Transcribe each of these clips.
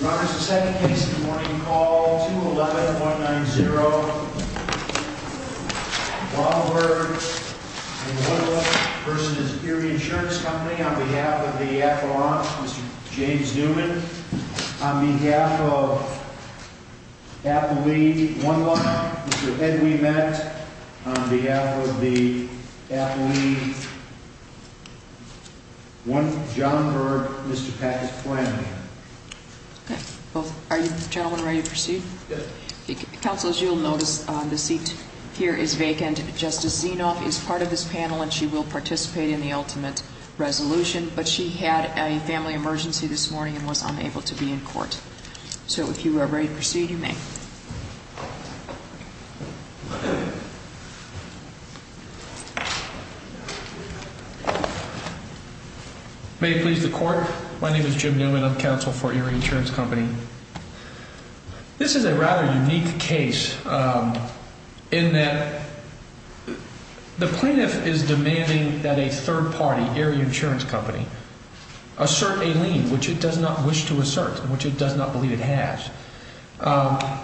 Your Honor, the second case in the morning, call 211.90. Wajnberg v. Erie Insurance Co. on behalf of the Attila Ross, Mr. James Newman. On behalf of the Attila Lee, Mr. Ed Lee Metz. On behalf of the Attila Lee, John Berg, Mr. Pat Flynn. Are you gentlemen ready to proceed? Yes. Counselors, you will notice the seat here is vacant. Justice Zinoff is part of this panel and she will participate in the ultimate resolution, but she had a family emergency this morning and was unable to be in court. So if you are ready to proceed, you may. May it please the Court. My name is Jim Newman. I'm counsel for Erie Insurance Company. This is a rather unique case in that the plaintiff is demanding that a third party, Erie Insurance Company, assert a lien which it does not wish to assert, which it does not believe it has.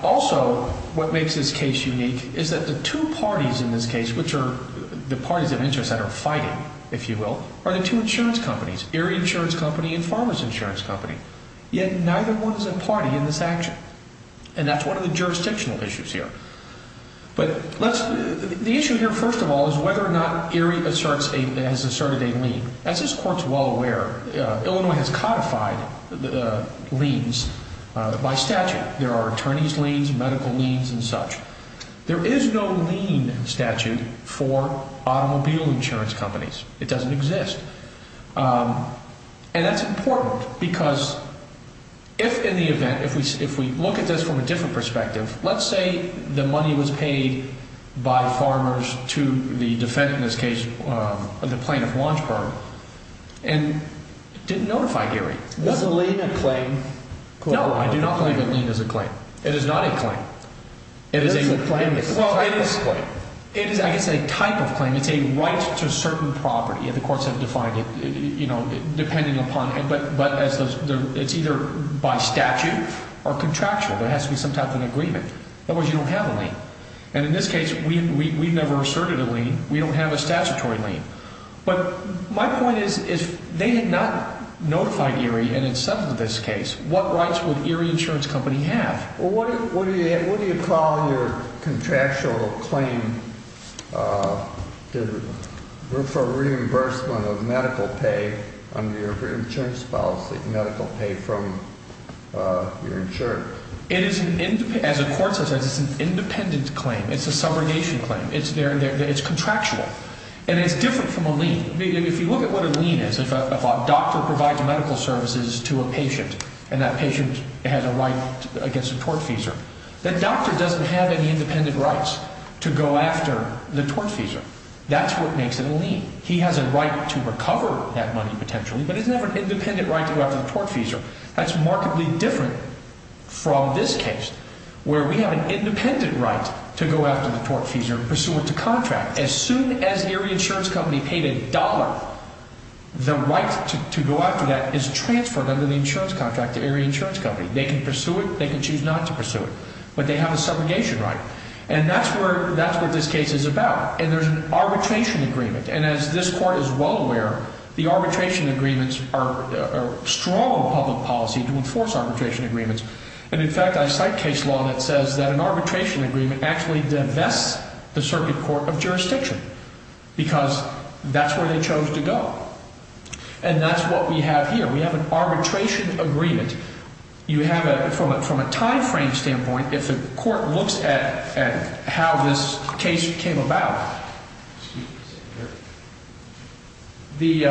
Also, what makes this case unique is that the two parties in this case, which are the parties of interest that are fighting, if you will, are the two insurance companies, Erie Insurance Company and Farmers Insurance Company. Yet neither one is a party in this action. And that's one of the jurisdictional issues here. The issue here, first of all, is whether or not Erie has asserted a lien. As this Court is well aware, Illinois has codified liens by statute. There are attorney's liens, medical liens, and such. There is no lien statute for automobile insurance companies. It doesn't exist. And that's important because if, in the event, if we look at this from a different perspective, let's say the money was paid by the farmers to the defense, in this case, of the plaintiff's launch card, and didn't notify Gary. Not the lien is a claim. No, I do not believe the lien is a claim. It is not a claim. It is a claim. Well, it is a claim. It is a type of claim. It's a right to certain property. The courts have defined it, you know, depending upon, but it's either by statute or contractual. There has to be some type of an agreement. Otherwise, you don't have a lien. And in this case, we've never asserted a lien. We don't have a statutory lien. But my point is, if they did not notify Erie, and in some of this case, what rights would Erie Insurance Company have? Well, what do you call your contractual claim for reimbursement of medical pay under your insurance policy, medical pay from your insurance? As the court has said, it's an independence claim. It's a subrogation claim. It's contractual. And it's different from a lien. If you look at what a lien is, if a doctor provides medical services to a patient, and that patient has a right against a tortfeasor, the doctor doesn't have any independent rights to go after the tortfeasor. That's what makes it a lien. He has a right to recover that money potentially, but he doesn't have an independent right to go after the tortfeasor. That's markedly different from this case, where we have an independent right to go after the tortfeasor and pursue it to contract. As soon as Erie Insurance Company paid a dollar, the right to go after that is transferred under the insurance contract to Erie Insurance Company. They can pursue it. They can choose not to pursue it. But they have a subrogation right. And that's what this case is about. And there's an arbitration agreement. And as this court is well aware, the arbitration agreements are strong public policy to enforce arbitration agreements. And, in fact, I cite case law that says that an arbitration agreement actually divests the circuit court of jurisdiction because that's where they chose to go. And that's what we have here. We have an arbitration agreement. You have a, from a time frame standpoint, if the court looks at how this case came about, the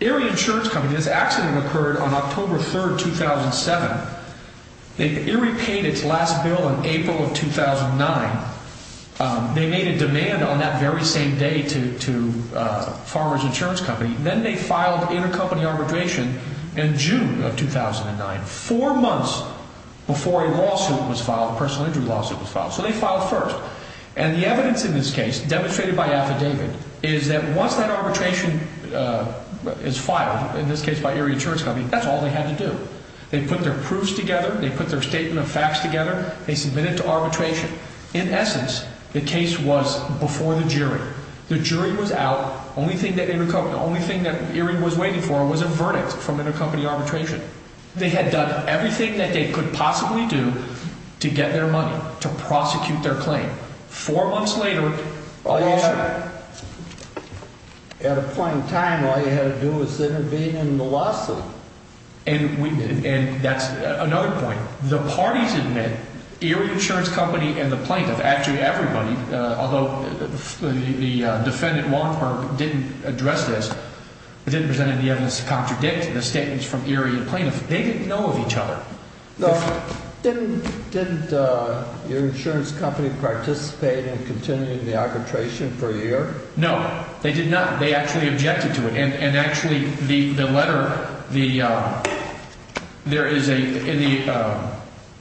Erie Insurance Company, this accident occurred on October 3rd, 2007. Erie paid its last bill in April of 2009. They made a demand on that very same day to Farmer's Insurance Company. Then they filed intercompany arbitration in June of 2009, four months before a lawsuit was filed, a personal injury lawsuit was filed. So they filed first. And the evidence in this case, demonstrated by the affidavit, is that once that arbitration is filed, in this case by Erie Insurance Company, that's all they had to do. They put their proofs together. They put their statement of facts together. They submitted to arbitration. In essence, the case was before the jury. The jury was out. The only thing that they recovered, the only thing that Erie was waiting for was a verdict from intercompany arbitration. They had done everything that they could possibly do to get their money, to prosecute their claim. Four months later. At a point in time, all you had to do was sit in a meeting in the lawsuit. And that's another point. The parties in it, Erie Insurance Company and the plaintiff, actually everybody, although the defendant, Longford, didn't address this, didn't present any evidence to contradict the statements from Erie and the plaintiff. They didn't know each other. Didn't Erie Insurance Company participate in continuing the arbitration for a year? No. They did not. They actually objected to it. And actually, the letter, there is a, in the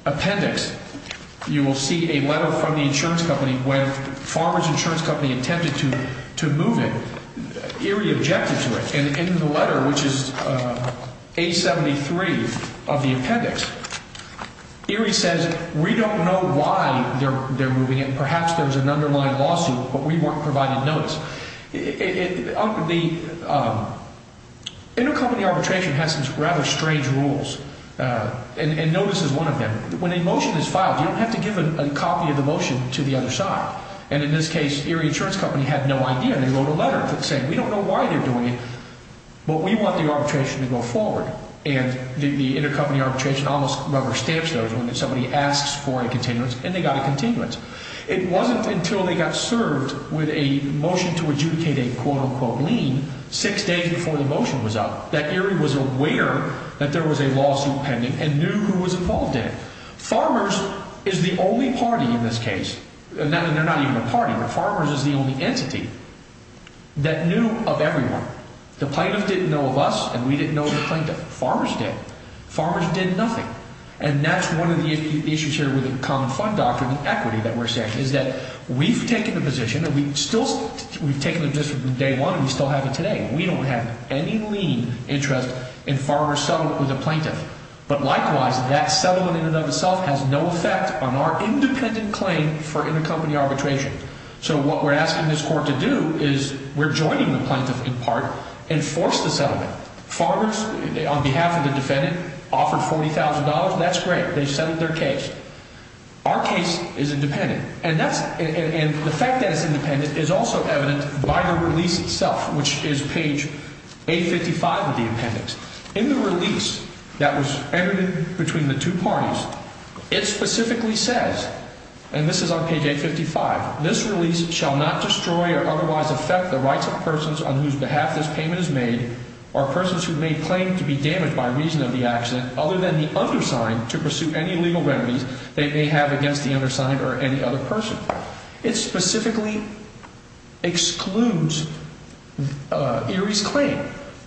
appendix, you will see a letter from the insurance company where Farmer's Insurance Company intended to move it. Erie objected to it. And in the letter, which is 873 of the appendix, Erie says, we don't know why they're moving it. Perhaps there's an underlying lawsuit, but we weren't provided notice. The intercompany arbitration has these rather strange rules. And notice is one of them. When a motion is filed, you don't have to give a copy of the motion to the other side. And in this case, Erie Insurance Company had no idea. And they wrote a letter saying, we don't know why they're doing it, but we want the arbitration to go forward. And the intercompany arbitration almost rubber-stamped everything. Somebody asks for a continuance, and they got a continuance. It wasn't until they got served with a motion to adjudicate a quote-unquote lien six days before the motion was up that Erie was aware that there was a lawsuit pending and knew who was involved in it. Farmers is the only party in this case. They're not even a party. Farmers is the only entity that knew of everyone. The plaintiffs didn't know of us, and we didn't know what Farmers did. Farmers did nothing. And that's one of the issues here with the Common Crime Doctrine and equity that we're saying, is that we've taken a position, and we've still taken a position from day one, and we still have it today. We don't have any lien interest in Farmers' settlement with the plaintiff. But likewise, that settlement in and of itself has no effect on our independent claim for intercompany arbitration. So what we're asking this court to do is we're joining the plaintiff in part and force the settlement. Farmers, on behalf of the defendant, offered $40,000. That's great. They settled their case. Our case is independent. And the fact that it's independent is also evident by the release itself, which is page 855 of the appendix. In the release that was entered between the two parties, it specifically says, and this is on page 855, this release shall not destroy or otherwise affect the rights of persons on whose behalf this payment is made or persons who may claim to be damaged by reason of the accident, other than the undersigned, to pursue any legal remedy they may have against the undersigned or any other person. It specifically excludes Erie's claim.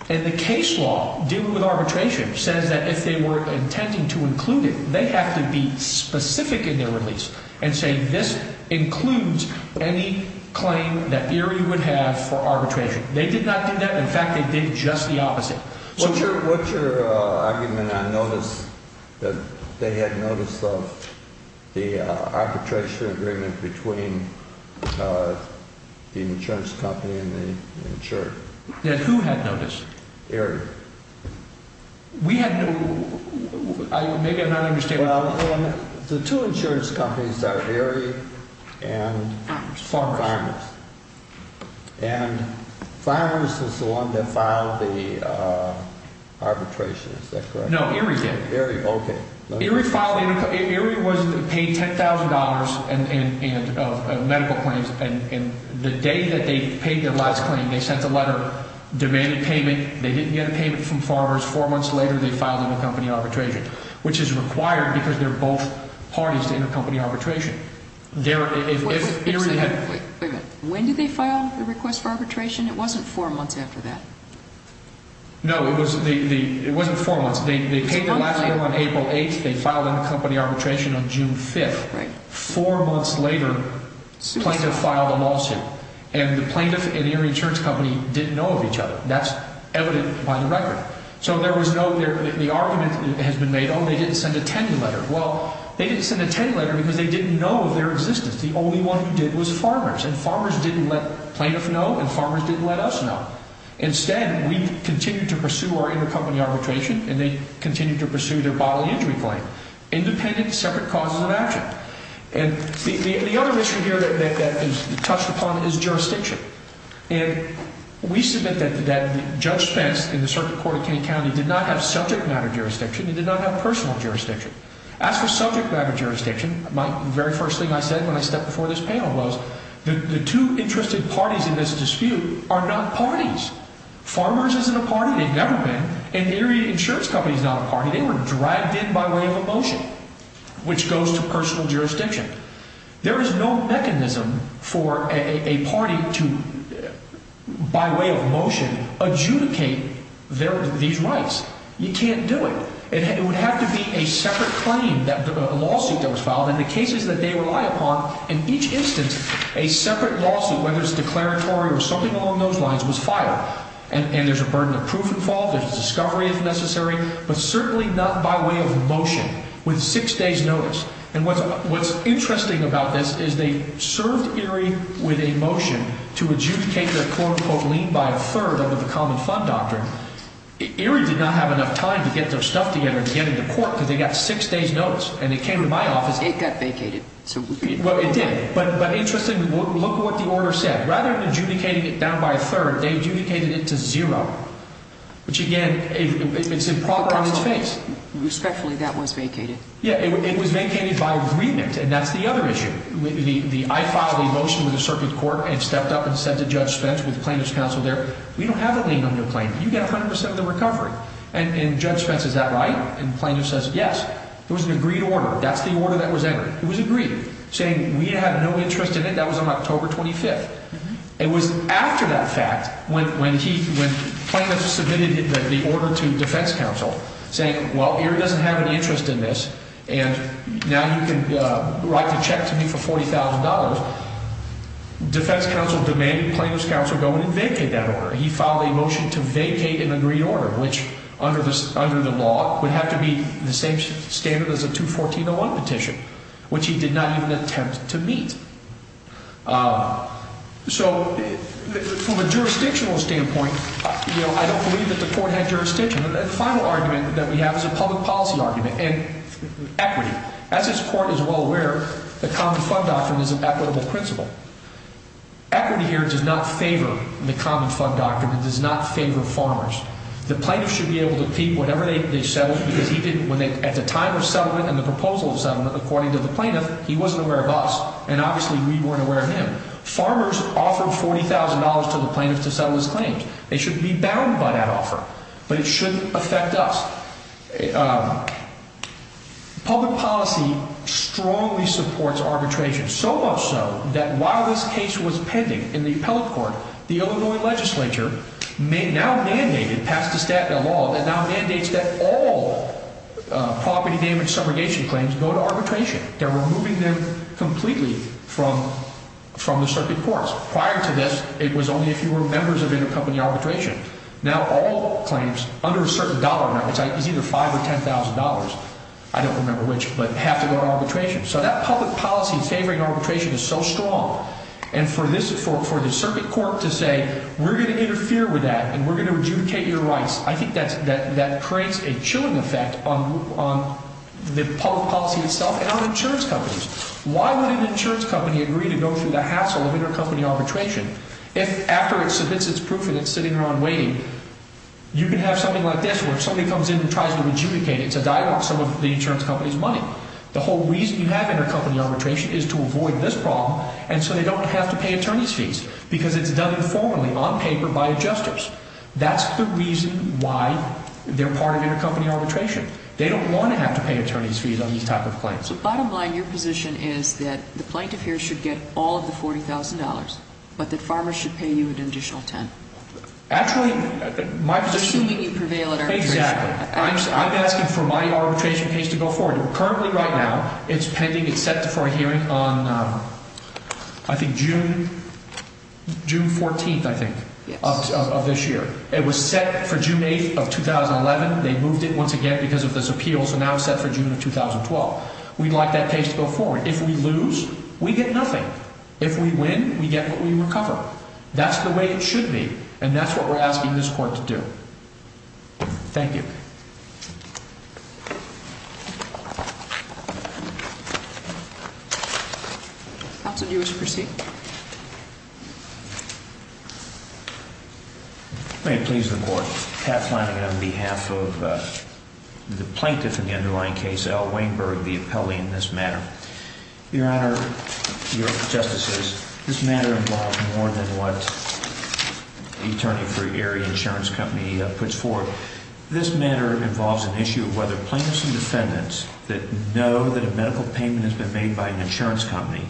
And the case law dealing with arbitration says that if they were intending to include it, they have to be specific in their release and say this includes any claim that Erie would have for arbitration. They did not do that. In fact, they did just the opposite. What's your argument on notice, that they had notice of the arbitration agreement between the insurance company and the insurer? That who had notice? Erie. We have to – maybe I'm not understanding. Well, the two insurance companies are Erie and Farmers. And Farmers is the one that filed the arbitration, is that right? No, Erie did. Erie, okay. Erie filed – Erie was paid $10,000 in medical claims, and the day that they paid their last claim, they sent a letter demanding payment. They didn't get payment from Farmers. Four months later, they filed an accompanying arbitration, which is required because they're both parties to the accompany arbitration. When did they file the request for arbitration? It wasn't four months after that. No, it wasn't four months. They paid their last claim on April 8th. They filed an accompanying arbitration on June 5th. Four months later, plaintiff filed a lawsuit. And the plaintiff and the insurance company didn't know of each other. That's evident by the letter. So there was no – the argument has been made, oh, they didn't send a ten-year letter. Well, they didn't send a ten-year letter because they didn't know of their existence. The only one who did was Farmers, and Farmers didn't let plaintiff know, and Farmers didn't let us know. Instead, we continued to pursue our intercompany arbitration, and they continued to pursue their bodily injury claim. Independent, separate causes of action. And the other issue here that is touched upon is jurisdiction. And we submit that Judge Pence in the Circuit Court of Kansas did not have subject-matter jurisdiction. He did not have personal jurisdiction. As for subject-matter jurisdiction, my very first thing I said when I stepped before this panel was, the two interested parties in this dispute are not parties. Farmers isn't a party. They've never been. And the insurance company is not a party. They were dragged in by way of a motion, which goes to personal jurisdiction. There is no mechanism for a party to, by way of motion, adjudicate these rights. You can't do it. It would have to be a separate claim, a lawsuit that was filed, and the cases that they rely upon, in each instance, a separate lawsuit, whether it's a declaratory or something along those lines, was filed. And there's a burden of proof involved. A discovery is necessary, but certainly not by way of a motion with six days' notice. And what's interesting about this is they served Erie with a motion to adjudicate their quote-unquote lien by a third under the Common Fund Doctrine. Erie did not have enough time to get their stuff together to get it to court, because they got six days' notice, and they came to my office. It got vacated. Well, it did. But interestingly, look what the lawyer said. Rather than adjudicating it down by a third, they adjudicated it to zero, which, again, is a quality on its face. Respectfully, that was vacated. Yeah, it was vacated by agreement, and that's the other issue. I filed a motion with the circuit court and stepped up and said to Judge Spence, with the plaintiff's counsel there, we don't have a lien on your claim. You get 100% of the recovery. And Judge Spence, is that right? And the plaintiff says, yes. It was an agreed order. That's the order that was entered. It was agreed, saying we have no interest in it. That was on October 25th. It was after that fact, when the plaintiff submitted the order to defense counsel, saying, well, here doesn't have an interest in this, and now you can write a check to me for $40,000, defense counsel demanded the plaintiff's counsel go and vacate that order. He filed a motion to vacate an agreed order, which, under the law, would have to be the same standard as a 214-01 petition, which he did not even attempt to meet. So from a jurisdictional standpoint, I don't believe that the court had jurisdiction. The final argument that we have is a public policy argument, and equity. As this court is well aware, the Common Fund Doctrine is an equitable principle. Equity here does not favor the Common Fund Doctrine. It does not favor farmers. The plaintiff should be able to keep whatever they settled. At the time of settlement and the proposal of settlement, according to the plaintiff, he wasn't aware of us, and obviously we weren't aware of him. Farmers offered $40,000 to the plaintiff to settle his claims. They shouldn't be bound by that offer, but it shouldn't affect us. Public policy strongly supports arbitration, so much so that while this case was pending in the appellate court, the Illinois legislature now mandated, passed a statute of law, that now mandates that all property damage subrogation claims go to arbitration. They're removing them completely from the circuit courts. Prior to this, it was only if you were members of any company arbitration. Now all claims under a certain dollar range, either $5,000 or $10,000, I don't remember which, but have to go to arbitration. So that public policy favoring arbitration is so strong. And for the circuit court to say, we're going to interfere with that and we're going to adjudicate your rights, I think that creates a chilling effect on the public policy itself and on insurance companies. Why would an insurance company agree to go through the hassle of intercompany arbitration if after it submits its proof and it's sitting there and waiting, you can have something like this where somebody comes in and tries to adjudicate it to divest some of the insurance company's money. The whole reason you have intercompany arbitration is to avoid this problem and so they don't have to pay attorney's fees because it's done informally, on paper, by adjusters. That's the reason why they're part of intercompany arbitration. They don't want to have to pay attorney's fees on these type of claims. So bottom line, your position is that the plaintiff here should get all of the $40,000, but that pharma should pay you an additional $10,000. Actually, my position is... This can be prevailed at arbitration. Exactly. I'm asking for my arbitration fees to go forward. Currently right now, it's pending. It's set for a hearing on, I think, June 14th, I think, of this year. It was set for June 8th of 2011. They moved it once again because of this appeal. It's now set for June of 2012. We'd like that case to go forward. If we lose, we get nothing. If we win, we get what we recover. That's the way it should be, and that's what we're asking this court to do. Thank you. Counsel, do you wish to proceed? May it please the court. Pat Flanagan on behalf of the plaintiff in the underlying case, Al Weinberg, the appellee in this matter. Your Honor, your justices, this matter involves more than what the attorney for Gary Insurance Company puts forth. This matter involves an issue of whether plaintiffs and defendants that know that a medical payment has been made by an insurance company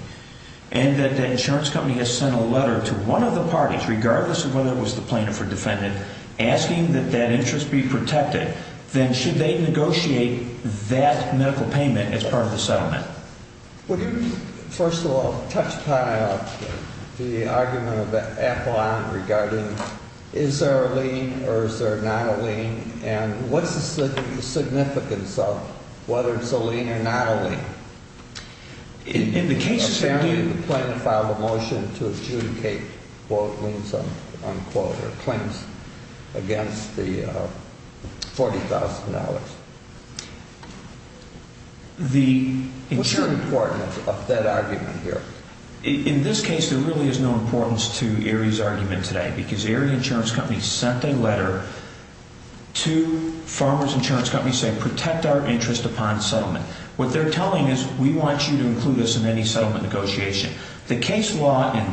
and that the insurance company has sent a letter to one of the parties, regardless of whether it was the plaintiff or defendant, asking that that interest be protected, then should they negotiate that medical payment as part of the settlement? Would you, first of all, touch-tie up the argument of the affilade regarding is there a lien or is there not a lien, and what's the significance of whether it's a lien or not a lien? In the case, Your Honor. The plaintiff filed a motion to adjudicate both liens, unquote, or claims, against the $40,000. What's your importance of that argument here? In this case, there really is no importance to Aries' argument today, because Aries Insurance Company sent a letter to Farmers Insurance Company saying, protect our interest upon settlement. What they're telling is, we want you to include us in any settlement negotiation. The case law in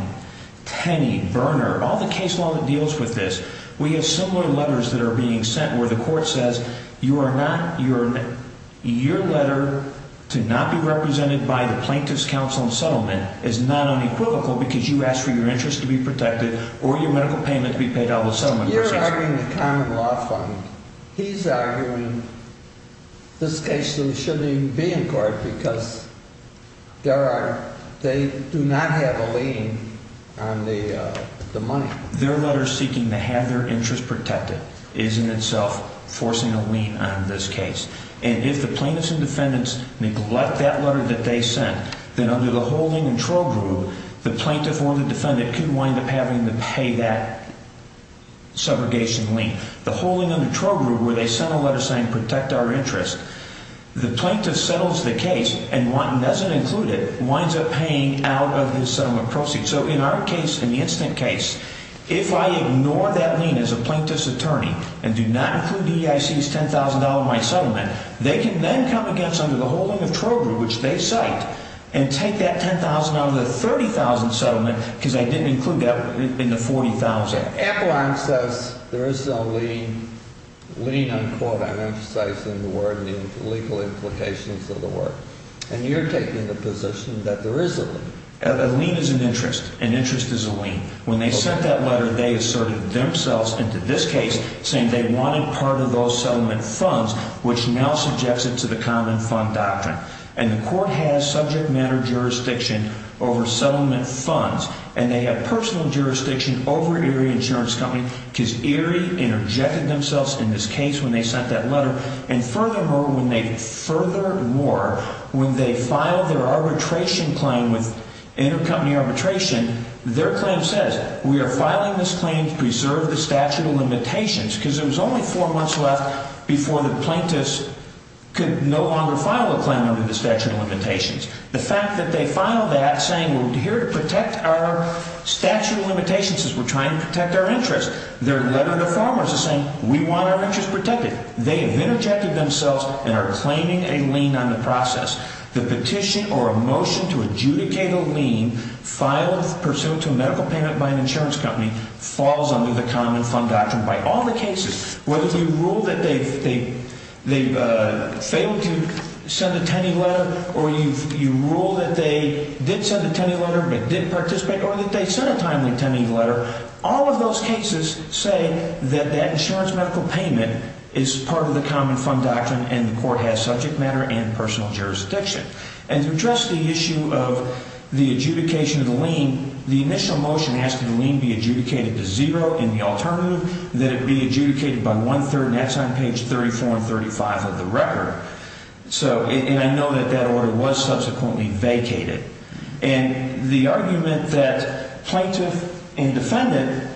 Penny, Berner, all the case law that deals with this, we have similar letters that are being sent where the court says, your letter to not be represented by the plaintiff's counsel in settlement is not unequivocal because you asked for your interest to be protected or your medical payment to be paid out of the settlement. You're arguing a common law claim. He's arguing this case shouldn't even be in court because they do not have a lien on the money. Their letter seeking to have their interest protected is in itself forcing a lien on this case. And if the plaintiffs and defendants neglect that letter that they sent, then under the holding and control group, the plaintiff or the defendant could wind up having to pay that segregation lien. The holding and control group, where they sent a letter saying, protect our interest, the plaintiff settles the case and doesn't include it, winds up paying out of the settlement proceeds. So in our case, in the incident case, if I ignore that lien as a plaintiff's attorney and do not include the EIC's $10,000 in my settlement, they can then come against under the holding and control group, which they set, and take that $10,000 out of the $30,000 settlement because I didn't include that in the $40,000. Echelon says there is no lien for that. Echelon says the word means legal implication for the word. And you're taking the position that there isn't. A lien is an interest. An interest is a lien. When they sent that letter, they asserted themselves into this case, saying they wanted part of those settlement funds, which now subjects it to the common fund doctrine. And the court has subject matter jurisdiction over settlement funds, and they have personal jurisdiction over Erie Insurance Company because Erie interjected themselves in this case when they sent that letter. And furthermore, when they filed their arbitration claim, intercompany arbitration, their claim says, we are filing this claim to preserve the statute of limitations because there was only four months left before the plaintiffs could no longer file a claim under the statute of limitations. The fact that they filed that saying, well, we're here to protect our statute of limitations because we're trying to protect our interest. Their letter to their Congress is saying, we want our interest protected. They have interjected themselves and are claiming a lien on the process. The petition or a motion to adjudicate a lien filed pursuant to a medical payment by an insurance company falls under the common fund doctrine by all the cases. Whether you rule that they failed to send the attending letter or you rule that they did send the attending letter but didn't participate or that they sent a timely attending letter, all of those cases say that that insurance medical payment is part of the common fund doctrine and the court has subject matter and personal jurisdiction. And to address the issue of the adjudication of the lien, the initial motion asking the lien be adjudicated to zero and the alternative that it be adjudicated by one-third, and that's on page 34 and 35 of the record. And I know that that order was subsequently vacated. And the argument that plaintiff and defendant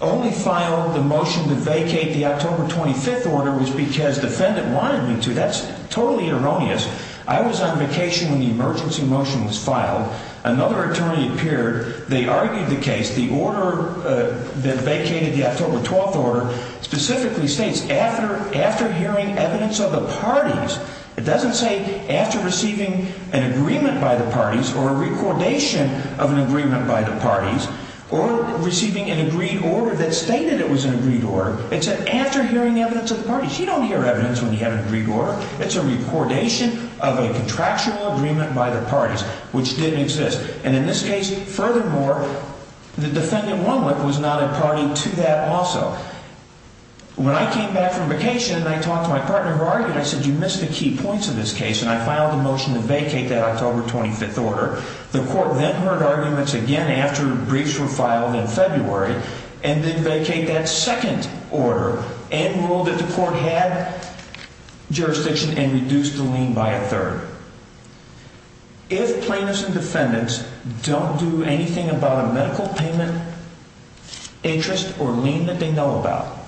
only filed the motion that vacated the October 25th order was because the defendant wanted them to. That's totally erroneous. I was on vacation when the emergency motion was filed. Another attorney appeared. They argued the case. The order that vacated the October 12th order specifically states, after hearing evidence of a parties, it doesn't say after receiving an agreement by the parties or a recordation of an agreement by the parties or receiving an agreed order that stated it was an agreed order. It said after hearing evidence of the parties. You don't hear evidence when you have an agreed order. It's a recordation of a contractual agreement by the parties, which did exist. And in this case, furthermore, the defendant was not a party to that also. When I came back from vacation and I talked to my partner, I said you missed the key points of this case, and I filed a motion to vacate that October 25th order. The court then heard arguments again after the briefs were filed in February and then vacated that second order and ruled that the court had jurisdiction and reduced the lien by a third. If plaintiffs and defendants don't do anything about a medical payment interest or lien that they know about,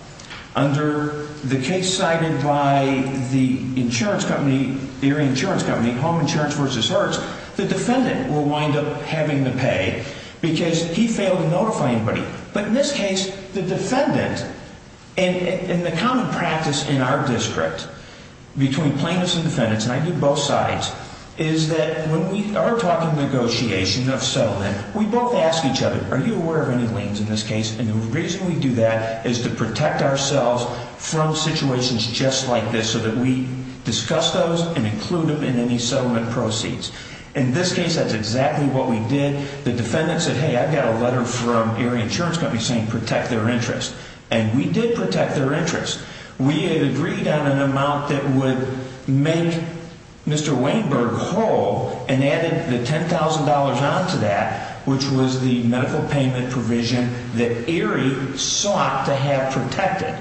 under the case cited by the insurance company, your insurance company, Home Insurance versus Ours, the defendant will wind up having to pay because he failed to notify anybody. But in this case, the defendant and the common practice in our district between plaintiffs and defendants, and I do both sides, is that when we are talking negotiation, not settlement, we both ask each other, are you aware of any liens in this case? And the reason we do that is to protect ourselves from situations just like this so that we discuss those and include them in any settlement proceeds. In this case, that's exactly what we did. The defendant said, hey, I've got a letter from your insurance company saying protect their interest, and we did protect their interest. We had agreed on an amount that would make Mr. Weinberg whole and added the $10,000 on to that, which was the medical payment provision that AREA sought to have protected,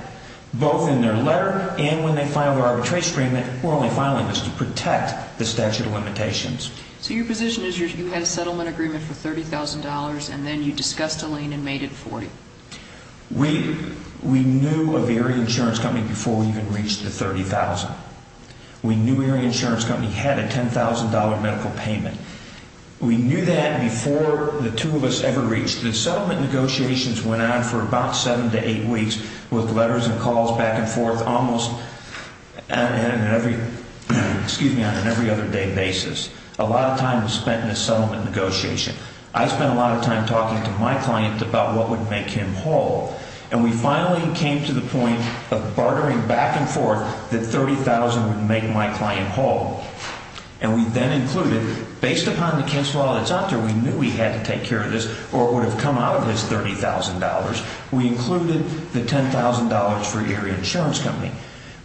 both in their letter and when they filed our attestation agreement, we're only filing this to protect the statute of limitations. So your position is you had a settlement agreement for $30,000 and then you discussed a lien and made it $40,000. We knew of AREA Insurance Company before we even reached the $30,000. We knew AREA Insurance Company had a $10,000 medical payment. We knew that before the two of us ever reached it. The settlement negotiations went on for about seven to eight weeks with letters and calls back and forth almost on an every-other-day basis. A lot of time was spent in the settlement negotiation. I spent a lot of time talking to my clients about what would make him whole, and we finally came to the point of bartering back and forth that $30,000 would make my client whole. And we then included, based upon the case law that's out there, we knew we had to take care of this or it would have come out of this $30,000. We included the $10,000 for AREA Insurance Company.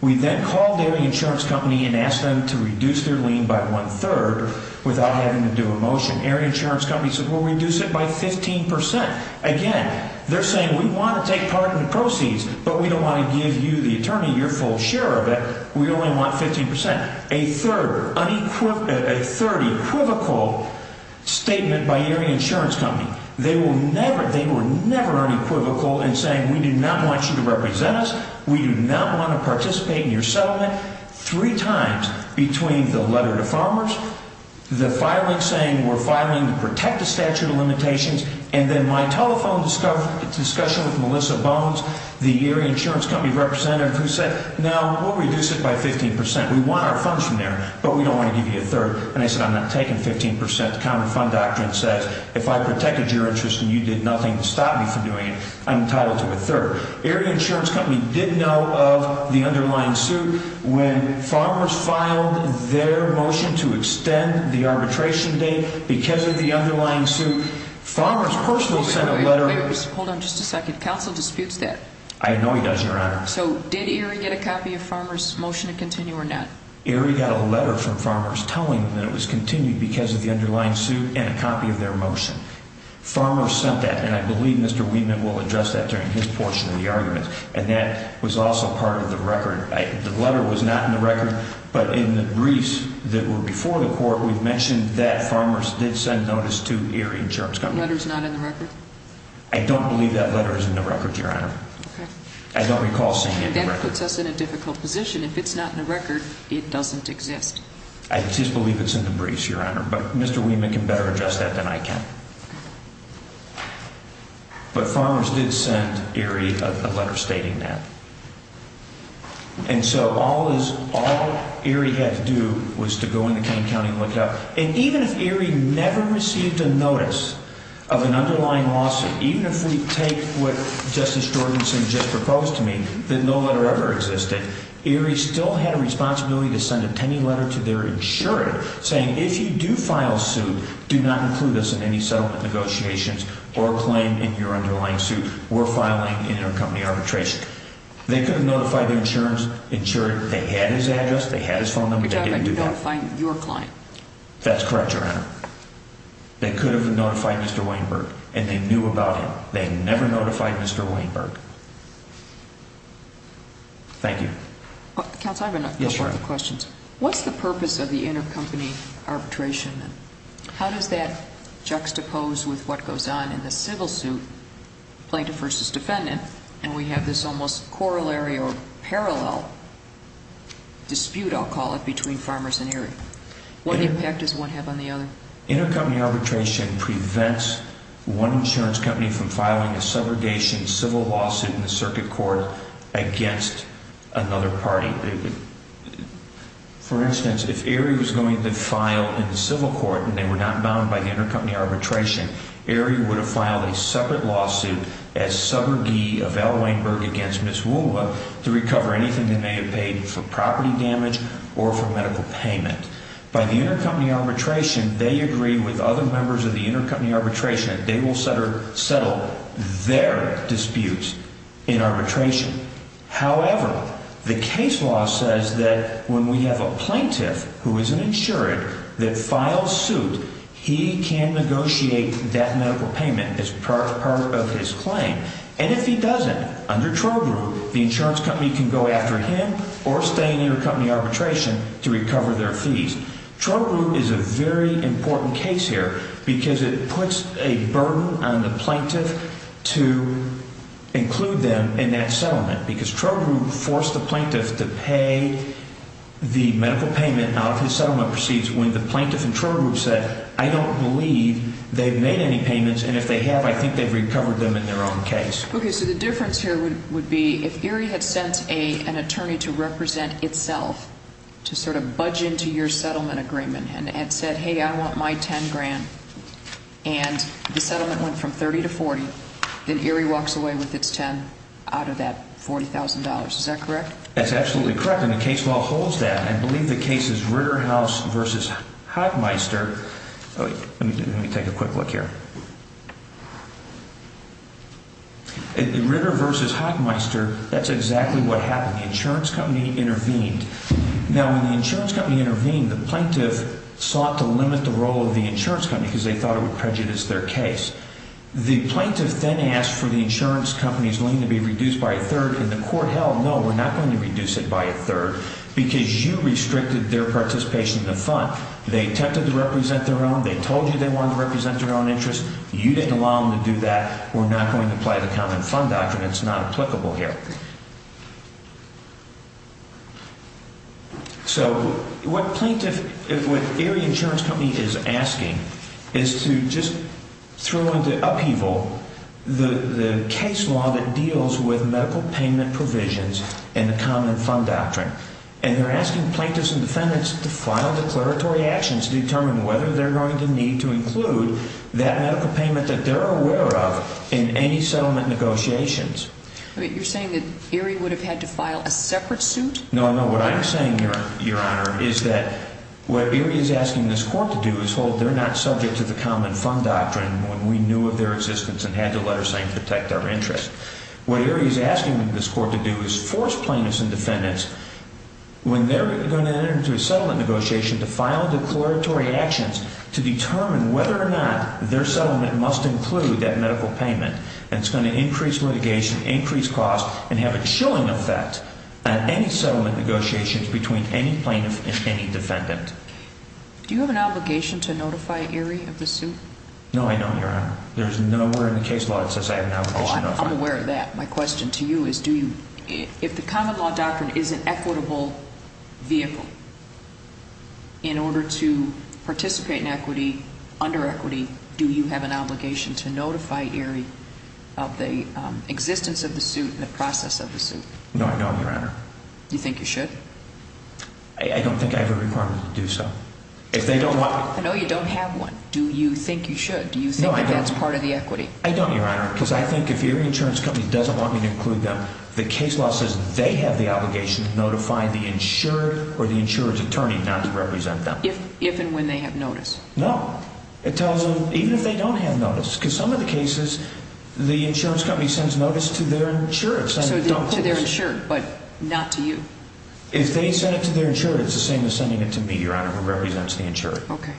We then called AREA Insurance Company and asked them to reduce their lien by one-third without having to do a motion. AREA Insurance Company said, well, reduce it by 15%. Again, they're saying, we want to take part in the proceeds, but we don't want to give you, the attorney, your full share of it. We only want 50%. A third, unequivocal statement by AREA Insurance Company. They were never unequivocal in saying, we do not want you to represent us. We do not want to participate in your settlement. Three times between the letter to Farmers, the filing saying we're filing to protect the statute of limitations, and then my telephone discussion with Melissa Bones, the AREA Insurance Company representative, who said, no, we'll reduce it by 15%. We want our funds from there, but we don't want to give you a third. And I said, I'm not taking 15%. The county fund document says, if I protected your interest and you did nothing to stop me from doing it, I'm entitled to a third. AREA Insurance Company did know of the underlying suit when Farmers filed their motion to extend the arbitration date because of the underlying suit. Farmers' personal set of letters – Hold on just a second. Counsel disputes that. I know he does, Your Honor. So did AREA get a copy of Farmers' motion to continue or not? AREA got a letter from Farmers telling them it was continued because of the underlying suit and a copy of their motion. Farmers sent that, and I believe Mr. Weidman will address that during his portion of the argument, and that was also part of the record. The letter was not in the record, but in the briefs that were before the court, we mentioned that Farmers did send notice to AREA Insurance Company. The letter's not in the record? I don't believe that letter is in the record, Your Honor. Okay. I don't recall seeing it in the record. That puts us in a difficult position. If it's not in the record, it doesn't exist. I just believe it's in the briefs, Your Honor, but Mr. Weidman can better address that than I can. But Farmers did send AREA a letter stating that. And so all AREA had to do was to go into King County and look that up. And even if AREA never received a notice of an underlying lawsuit, even if we take what Justice Jorgenson just proposed to me, that no letter ever existed, AREA still had a responsibility to send a pending letter to their insurer saying if you do file a suit, do not include us in any settlement negotiations or claim in your underlying suit or filing in your company arbitration. They could have notified the insurance insurer that they had his address, they had his phone number, but they didn't do that. You got a claim, your claim. That's correct, Your Honor. They could have notified Mr. Weinberg, and they knew about him. They never notified Mr. Weinberg. Thank you. Counsel, I've got a couple of questions. What's the purpose of the intercompany arbitration? How does that juxtapose with what goes on in the civil suit, plaintiff versus defendant? And we have this almost corollary or parallel dispute, I'll call it, between Farmers and AREA. What impact does one have on the other? Intercompany arbitration prevents one insurance company from filing a subrogation civil lawsuit in the circuit court against another party. For instance, if AREA was going to file in the civil court and they were not mounted by the intercompany arbitration, AREA would have filed a separate lawsuit as subrogee of Al Weinberg against Ms. Woolworth to recover anything they may have paid for property damage or for medical payment. By the intercompany arbitration, they agree with other members of the intercompany arbitration, and they will settle their disputes in arbitration. However, the case law says that when we have a plaintiff who is an insurer that files suit, he can negotiate that medical payment as part of his claim. And if he doesn't, under Troll Group, the insurance company can go after him or stay in intercompany arbitration to recover their fees. Troll Group is a very important case here, because it puts a burden on the plaintiff to include them in that settlement, because Troll Group forced the plaintiff to pay the medical payment of his settlement receipts when the plaintiff in Troll Group said, I don't believe they've made any payments, and if they have, I think they've recovered them in their own case. Okay, so the difference here would be if ERIE had sent an attorney to represent itself to sort of budge into your settlement agreement and had said, hey, I want my $10,000,000, and the settlement went from $30,000 to $40,000, then ERIE walks away with its $10,000 out of that $40,000. Is that correct? That's absolutely correct, and the case law holds that. I believe the case is Ritter House v. Hockmeister. Let me take a quick look here. Ritter v. Hockmeister, that's exactly what happened. The insurance company intervened. Now, when the insurance company intervened, the plaintiff sought to limit the role of the insurance company because they thought it would prejudice their case. The plaintiff then asked for the insurance company's willing to be reduced by a third, and the court held, no, we're not going to reduce it by a third, because you restricted their participation in the fund. They attempted to represent their own. They told you they wanted to represent their own interest. You didn't allow them to do that. We're not going to apply the common fund doctrine. It's not applicable here. So what ERIE Insurance Company is asking is to just throw the upheaval, the case law that deals with medical payment provisions and the common fund doctrine, and they're asking plaintiffs and defendants to file declaratory actions to determine whether they're going to need to include that medical payment that they're aware of in any settlement negotiations. But you're saying that ERIE would have had to file a separate suit? No, no. What I'm saying, Your Honor, is that what ERIE is asking this court to do is hold they're not subject to the common fund doctrine when we knew of their existence and had to let her sign to protect our interest. What ERIE is asking this court to do is force plaintiffs and defendants, when they're going to enter into a settlement negotiation, to file declaratory actions to determine whether or not their settlement must include that medical payment, and it's going to increase litigation, increase costs, and have a chilling effect at any settlement negotiations between any plaintiff and any defendant. Do you have an obligation to notify ERIE of the suit? No, I don't, Your Honor. There's nowhere in the case law that says I have an obligation to notify ERIE. I'm aware of that. My question to you is, if the common law doctrine is an equitable vehicle, in order to participate in equity, under equity, do you have an obligation to notify ERIE of the existence of the suit and the process of the suit? No, I don't, Your Honor. You think you should? I don't think I have a requirement to do so. If they don't want… No, you don't have one. Do you think you should? Do you think that's part of the equity? No, I don't. I don't, Your Honor, because I think if ERIE Insurance Company doesn't want me to include them, the case law says they have the obligation to notify the insurer or the insurance attorney not to represent them. If and when they have notice? No. It tells them, even if they don't have notice, because some of the cases, the insurance company sends notice to their insurers and they don't. No, to their insurer, but not to you. If they send it to their insurer, it's the same as sending it to me, Your Honor, who represents the insurer. Okay.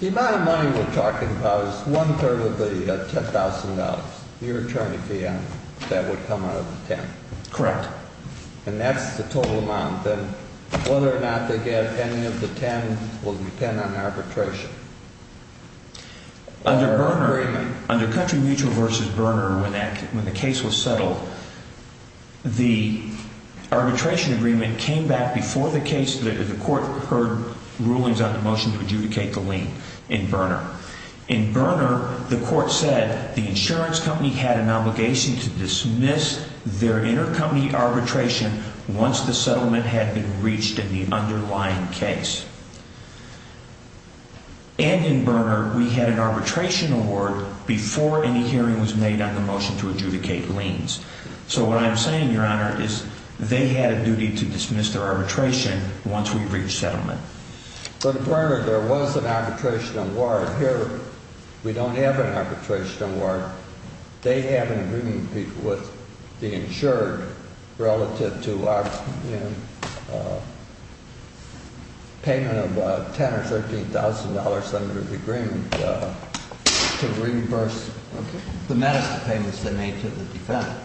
The amount of money we're talking about is one-third of the $10,000. You're trying to preempt that would come out of the 10. Correct. And that's the total amount. Then, whether or not they get any of the 10 will depend on arbitration. Under Berner, under Country Regional v. Berner, when the case was settled, the arbitration agreement came back before the case that the court heard rulings of the motion to adjudicate the lien in Berner. In Berner, the court said the insurance company had an obligation to dismiss their intercompany arbitration once the settlement had been reached in the underlying case. And in Berner, we had an arbitration award before any hearing was made on the motion to adjudicate liens. So what I'm saying, Your Honor, is they had a duty to dismiss their arbitration once we reached settlement. For Berner, there was an arbitration award. Here, we don't have an arbitration award. They had an agreement with the insured relative to our payment of $10,000 or $15,000 under the agreement to reimburse the medical payments they made to the defendant.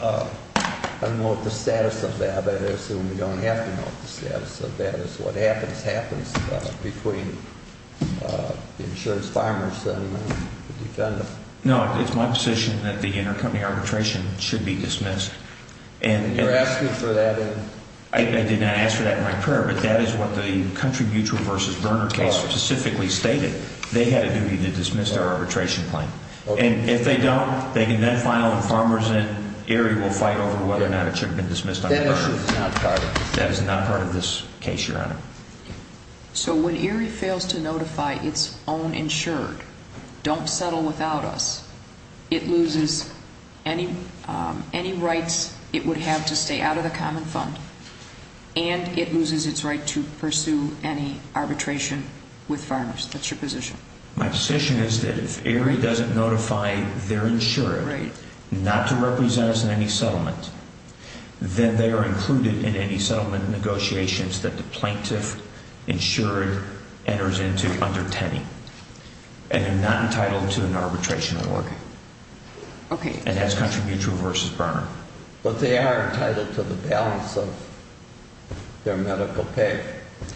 I don't know what the status of that is. I assume we don't have an office status, so that is what happens between the insured's farmer settlement and the defendant's. No, I think my position is that the intercompany arbitration should be dismissed. And you're asking for that in… I did not ask for that in my prayer, but that is what the Country Mutual v. Berner case specifically stated. They had a duty to dismiss their arbitration claim. And if they don't, they can then file a Farmers' In. ERIE will fight over whether or not it should have been dismissed. That is not part of this case, Your Honor. So when ERIE fails to notify its own insured, don't settle without us, it loses any rights it would have to stay out of the common fund, and it loses its right to pursue any arbitration with farmers. What's your position? My position is that if ERIE doesn't notify their insured not to represent us in any settlement, then they are included in any settlement negotiations that the plaintiff insured enters into under Tenning and are not entitled to an arbitration award. Okay. And as Country Mutual v. Berner. But they are entitled to the balance of their medical pay.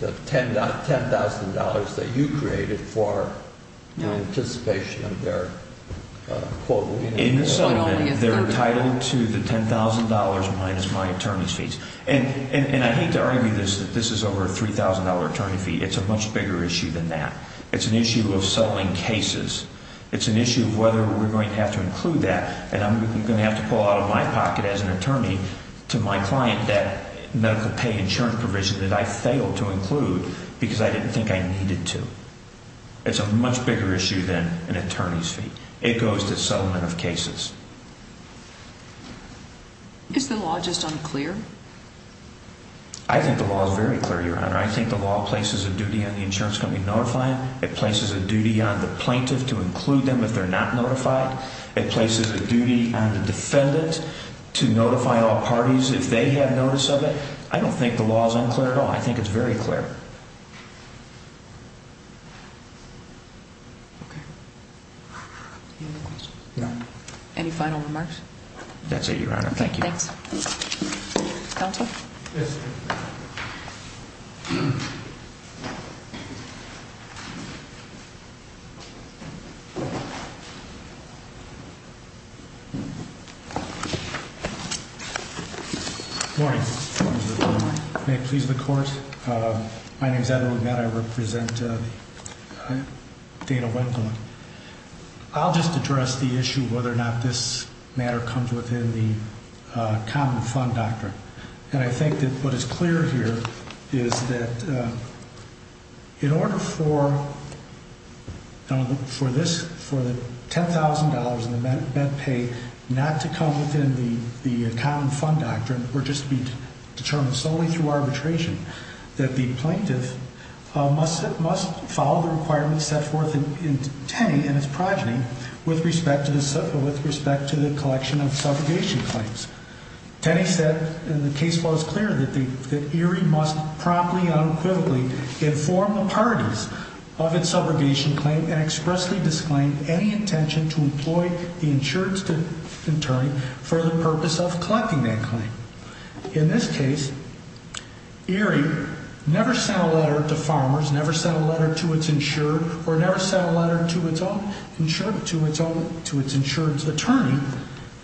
The $10,000 that you created for anticipation of their quote. They're entitled to the $10,000 minus my attorney's fees. And I think ERIE, this is over a $3,000 attorney fee. It's a much bigger issue than that. It's an issue of settling cases. It's an issue of whether we're going to have to include that. And I'm going to have to pull out of my pocket as an attorney to my client that medical pay insurance provision that I failed to include because I didn't think I needed to. It's a much bigger issue than an attorney's fee. It goes to settlement of cases. Is the law just unclear? I think the law is very clear, Your Honor. I think the law places a duty on the insurance company to notify them. It places a duty on the plaintiff to include them if they're not notified. It places a duty on the defendant to notify all parties if they have notice of it. I don't think the law is unclear at all. I think it's very clear. Any final remarks? That's it, Your Honor. Thank you. Counsel? Yes. Good morning. May it please the Court? My name is Edward Mead. I represent Data Wembley. I'll just address the issue of whether or not this matter comes within the Common Fund Doctrine. And I think that what is clear here is that in order for $10,000 of med pay not to come within the Common Fund Doctrine or just be determined solely through arbitration, that the plaintiff must follow the requirements set forth in 10 in its program with respect to the collection of subrogation claims. The case law is clear that ERIE must promptly and unequivocally inform the parties of its subrogation claim and expressly disclaim any intention to employ the insurance attorney for the purpose of collecting that claim. In this case, ERIE never sent a letter to farmers, never sent a letter to its insurer, or never sent a letter to its insurance attorney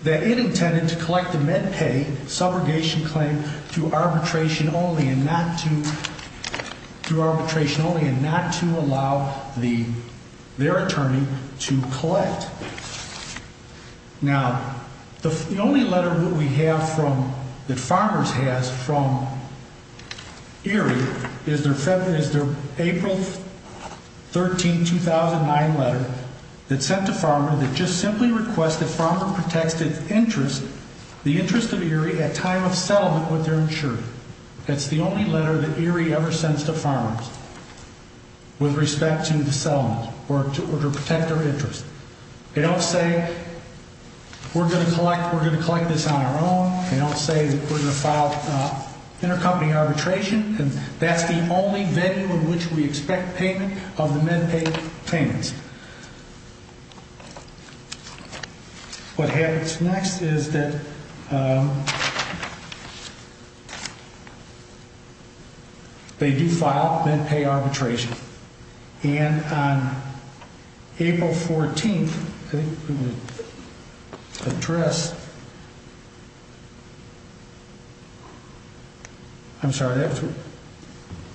that it intended to collect the med pay subrogation claim through arbitration only and not to allow their attorney to collect. Now, the only letter that we have from, that farmers has from ERIE is their April 13, 2009 letter that sent to farmers that just simply requests that farmers protect the interest of ERIE at time of settlement with their insurance. That's the only letter that ERIE ever sends to farmers with respect to the settlement or to protect their interest. They don't say, we're going to collect this on our own, they don't say that we're going to file intercompany arbitration, and that's the only venue in which we expect payment on the med pay payments. What happens next is that they do file med pay arbitration, and on April 14, I think it was the address, I'm sorry,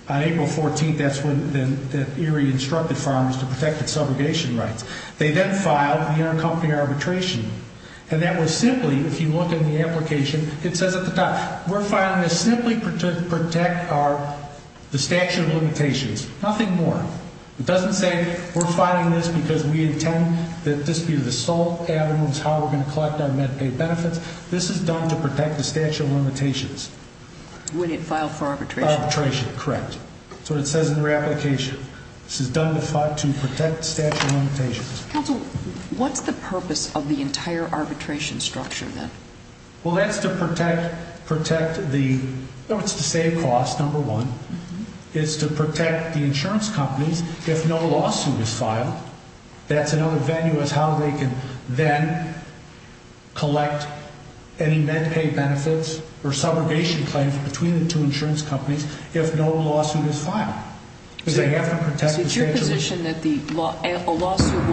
on April 14, that's when ERIE instructed farmers to protect the subrogation claim. They then filed intercompany arbitration, and that was simply, if you look in the application, it says at the top, we're filing this simply to protect the statute of limitations. Nothing more. It doesn't say we're filing this because we intend that this be the sole avenues how we're going to collect our med pay benefits. This is done to protect the statute of limitations. We didn't file for arbitration. Arbitration, correct. That's what it says in your application. This is done to protect the statute of limitations. Counsel, what's the purpose of the entire arbitration structure then? Well, that's to protect the, no, it's to stay across, number one. It's to protect the insurance company if no lawsuit is filed. That's another venue as to how they can then collect any med pay benefits or subrogation claims between the two insurance companies if no lawsuit is filed. It's your position that a lawsuit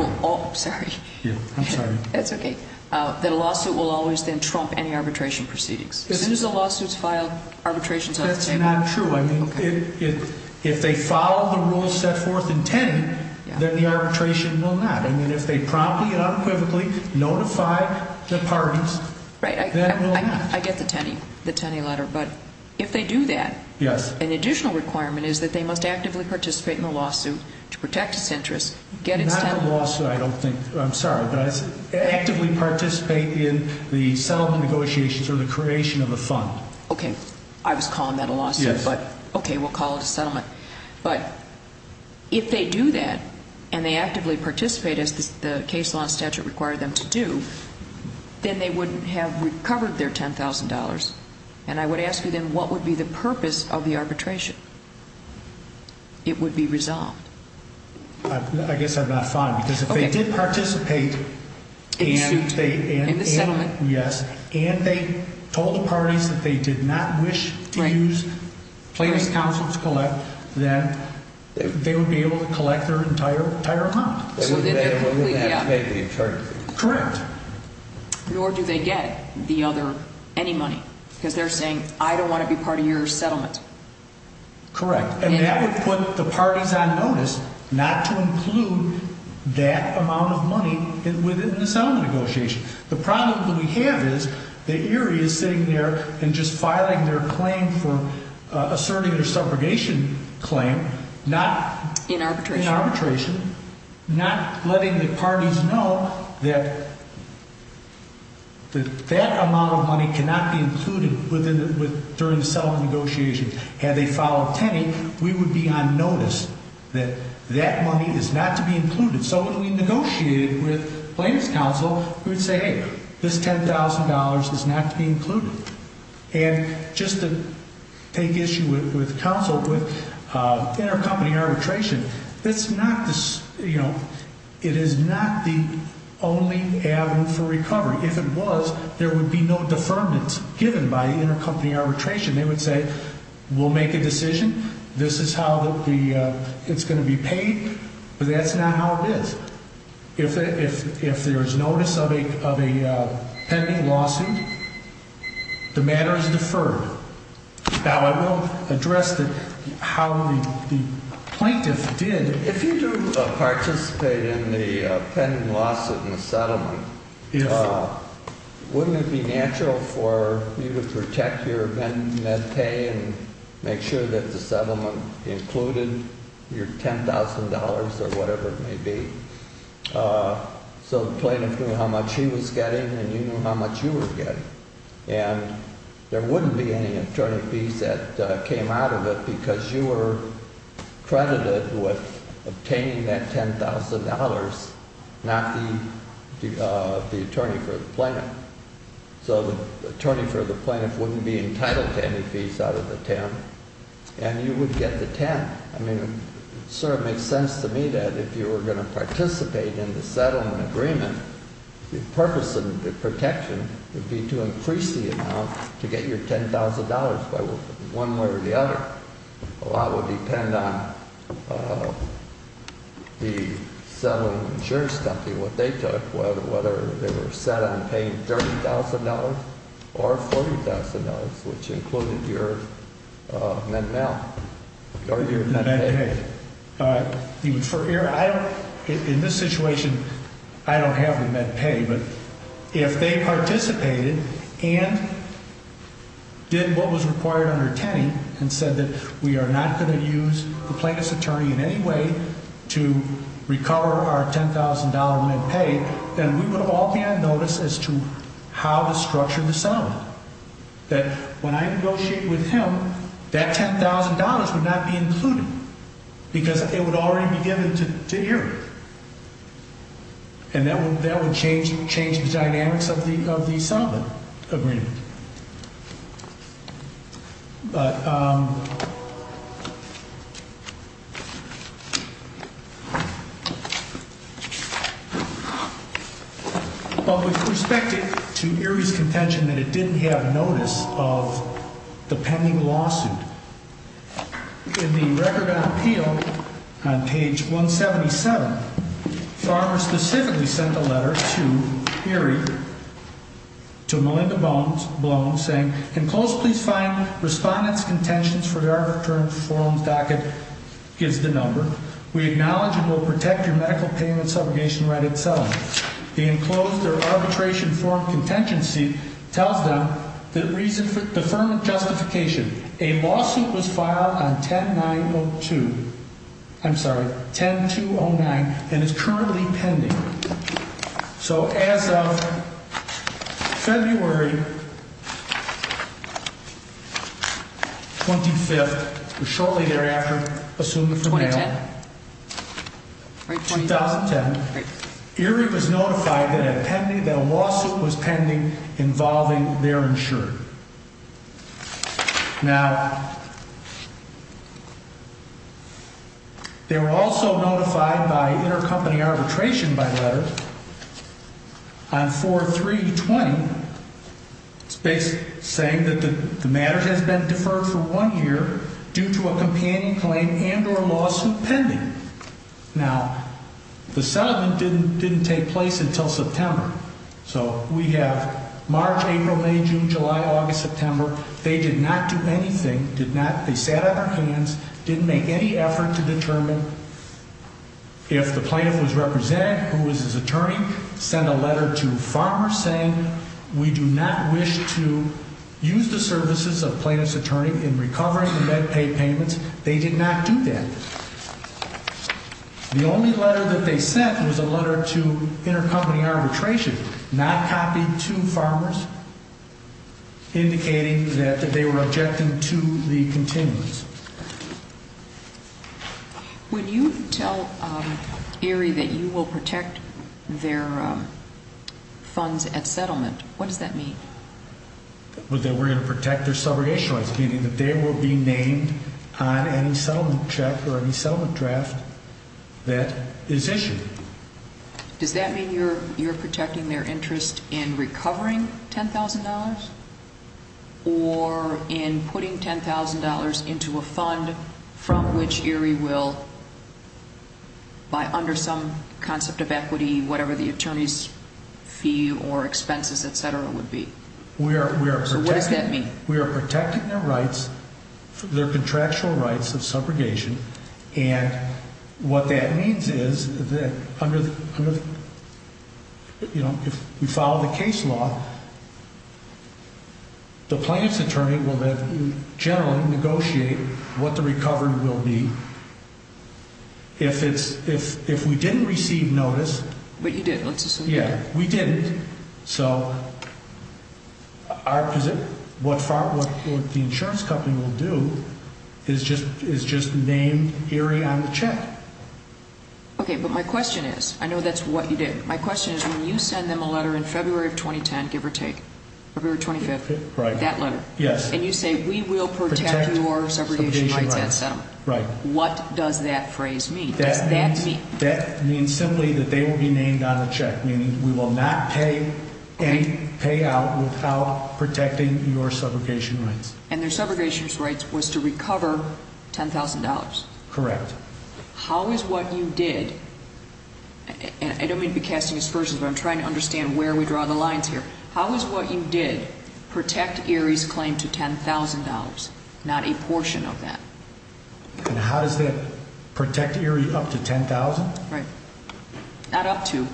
will always then trump any arbitration proceedings? As soon as the lawsuit is filed, arbitration is not true. If they follow the rules, step forth and tend, then the arbitration will not. I mean, if they promptly and unequivocally notify the parties, that will not. I get the Tenney letter, but if they do that, an additional requirement is that they must actively participate in the lawsuit to protect its interest. Not a lawsuit, I don't think. I'm sorry, but actively participate in the settlement negotiations or the creation of the fund. Okay, I was calling that a lawsuit, but okay, we'll call it a settlement. But if they do that and they actively participate as the case law statute required them to do, then they would have recovered their $10,000. And I would ask you then, what would be the purpose of the arbitration? It would be resolved. I guess I'm not fine, because if they did participate and they told the parties that they did not wish to use planning counsel to collect, then they would be able to collect their entire amount. Correct. Nor do they get the other, any money, because they're saying, I don't want to be part of your settlement. Correct. I mean, that would put the parties on notice not to include that amount of money within the settlement negotiations. The problem that we have is that Erie is sitting there and just filing their claim for a surrogate or subrogation claim. In arbitration. Not letting the parties know that that amount of money cannot be included during the settlement negotiations. Had they filed a penny, we would be on notice that that money is not to be included. So if we negotiated with planning counsel, we would say, hey, this $10,000 is not to be included. And just to take issue with counsel, with intercompany arbitration, it is not the only avenue for recovery. If it was, there would be no deferment given by intercompany arbitration. They would say, we'll make a decision. This is how it's going to be paid. That's not how it is. If there is notice of a pending lawsuit, the matter is deferred. Now, I won't address how the plaintiffs did. If you do participate in the pending lawsuit and settlement, wouldn't it be natural for you to protect your net pay and make sure that the settlement included your $10,000 or whatever it may be? So the plaintiff knew how much he was getting and he knew how much you were getting. And there wouldn't be any attorney fees that came out of it because you were credited with obtaining that $10,000, not the attorney for the plaintiff. So the attorney for the plaintiff wouldn't be entitled to any fees out of the 10, and you would get the 10. I mean, it sort of makes sense to me that if you were going to participate in the settlement agreement, the purpose of the protection would be to increase the amount to get your $10,000, one way or the other. A lot would depend on the settlement insurance company, what they took, whether they were set on paying $30,000 or $40,000, which included your net net pay. In this situation, I don't have the net pay, but if they participated and did what was required under 10 and said that we are not going to use the plaintiff's attorney in any way to recover our $10,000 net pay, then we would all get a notice as to how to structure the settlement. That when I negotiate with him, that $10,000 would not be included because it would already be given to him. And that would change the dynamics of the settlement agreement. But we suspected to Erie's contention that it didn't have notice of the pending lawsuit. In the record of appeal on page 177, the farmer specifically sent a letter to Erie, to Melinda Bloom, saying, can closely find respondents' contentions for the arbitration form docket, gives the number. We acknowledge it will protect your medical payment subrogation right itself. The enclosed arbitration form contention sheet tells them the reason for deferment justification. A lawsuit was filed on 10-9-0-2, I'm sorry, 10-2-0-9, and is currently pending. So as of February 25th, or shortly thereafter, assumed for now, 2010, Erie was notified that a lawsuit was pending involving their insurer. Now, they were also notified by intercompany arbitration by letters on 4-3-20, saying that the matter has been deferred for one year due to a companion claim and or a lawsuit pending. Now, the settlement didn't take place until September. So we have March, April, May, June, July, August, September. They did not do anything, did not be set up for clearance, didn't make any effort to determine if the plaintiff was represented, who was his attorney, sent a letter to the farmer saying, we do not wish to use the services of plaintiff's attorney in recovering the med pay payments. They did not do that. The only letter that they sent was a letter to intercompany arbitration, not copied to farmers, indicating that they were objective to the contingency. When you tell Erie that you will protect their funds at settlement, what does that mean? That we're going to protect their subrogation rights, meaning that they will be named on any settlement check or any settlement draft that is issued. Does that mean you're protecting their interest in recovering $10,000? Or in putting $10,000 into a fund from which Erie will, under some concept of equity, whatever the attorney's fee or expenses, et cetera, would be? What does that mean? We are protecting their rights, their contractual rights of subrogation, and what that means is that if we follow the case law, the plaintiff's attorney will generally negotiate what the recovery will be. If we didn't receive notice... But you did. Yeah, we didn't. So what the insurance company will do is just name Erie on the check. Okay, but my question is, I know that's what you did, my question is when you send them a letter in February of 2010, give or take, February 25th, that letter, and you say we will protect your subrogation rights at settlement. Right. What does that phrase mean? That means simply that they will be named on the check, meaning we will not pay any payout without protecting your subrogation rights. And their subrogation rights was to recover $10,000. Correct. How is what you did, and I don't mean to be casting aspersions, but I'm trying to understand where we draw the lines here, how is what you did protect Erie's claim to $10,000, not a portion of that? And how does that protect Erie up to $10,000? Right. Not up to,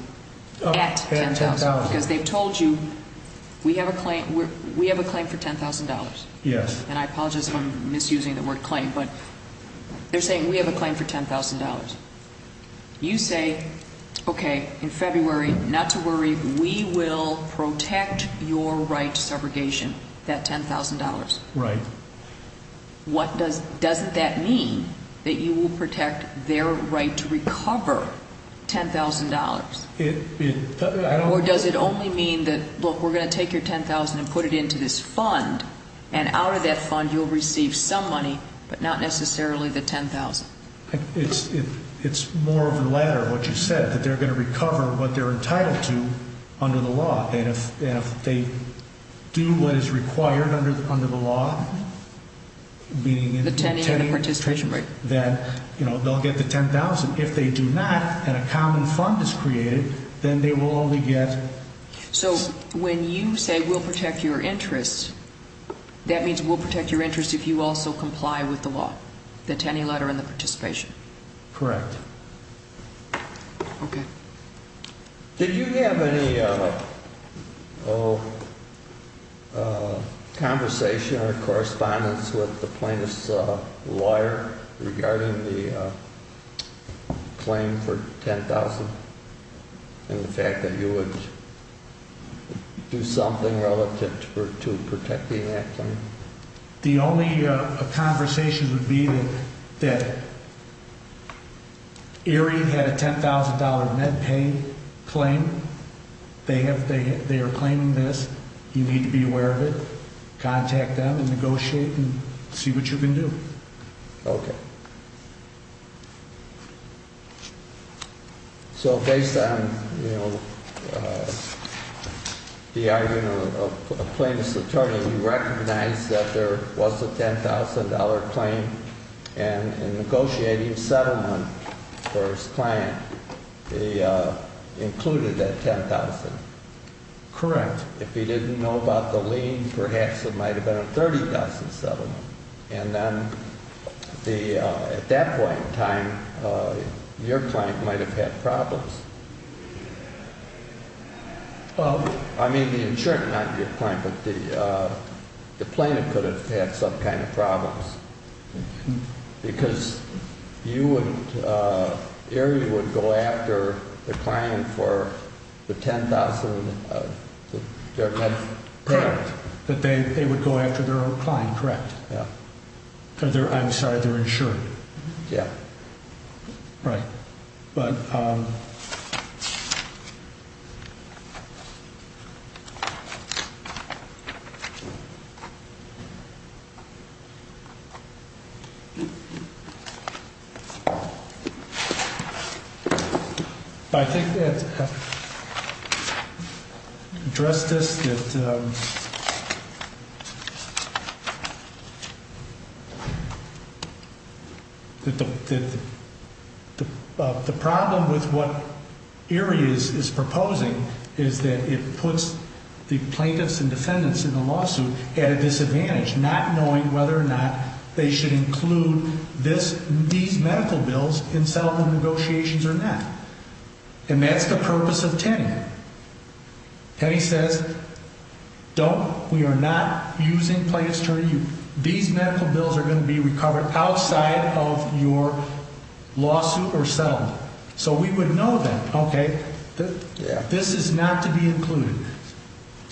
at $10,000. Because they told you we have a claim for $10,000. Yes. And I apologize for misusing the word claim, but they're saying we have a claim for $10,000. You say, okay, in February, not to worry, we will protect your rights subrogation at $10,000. Right. Doesn't that mean that you will protect their right to recover $10,000? Or does it only mean that, look, we're going to take your $10,000 and put it into this fund, and out of that fund you will receive some money, but not necessarily the $10,000? It's more of the latter, what you said, that they're going to recover what they're entitled to under the law. And if they do what is required under the law, meaning that they'll get the $10,000, if they do not and a common fund is created, then they will only get... So when you say we'll protect your interests, that means we'll protect your interests if you also comply with the law, the attorney letter and the participation? Correct. Okay. Did you have any conversation or correspondence with the plaintiff's lawyer regarding the claim for $10,000 and the fact that you would do something relative to protecting that claim? The only conversation would be that if the area had a $10,000 Medicaid claim, they are claiming this, you need to be aware of it, contact them and negotiate and see what you can do. Okay. So based on the argument of the plaintiff's attorney, you recognize that there was a $10,000 claim and in negotiating settlement, there is claim included that $10,000. Correct. If you didn't know about the lien, perhaps it might have been a $30,000 settlement. And then at that point in time, your client might have had problems. I mean the insurer, not your client, but the plaintiff could have had some kind of problems because you and the area would go after the claimant for the $10,000. Correct. They would go after their own client. Correct. I'm sorry, their insurer. Yeah. Right. But I think address this with the plaintiff. The problem with what AREA is proposing is that it puts the plaintiffs and defendants in the lawsuit at a disadvantage, not knowing whether or not they should include these medical bills in settlement negotiations or not. And he says, don't, we are not using plaintiffs' attorney. These medical bills are going to be recovered outside of your lawsuit or settlement. So we would know that, okay. This is not to be included.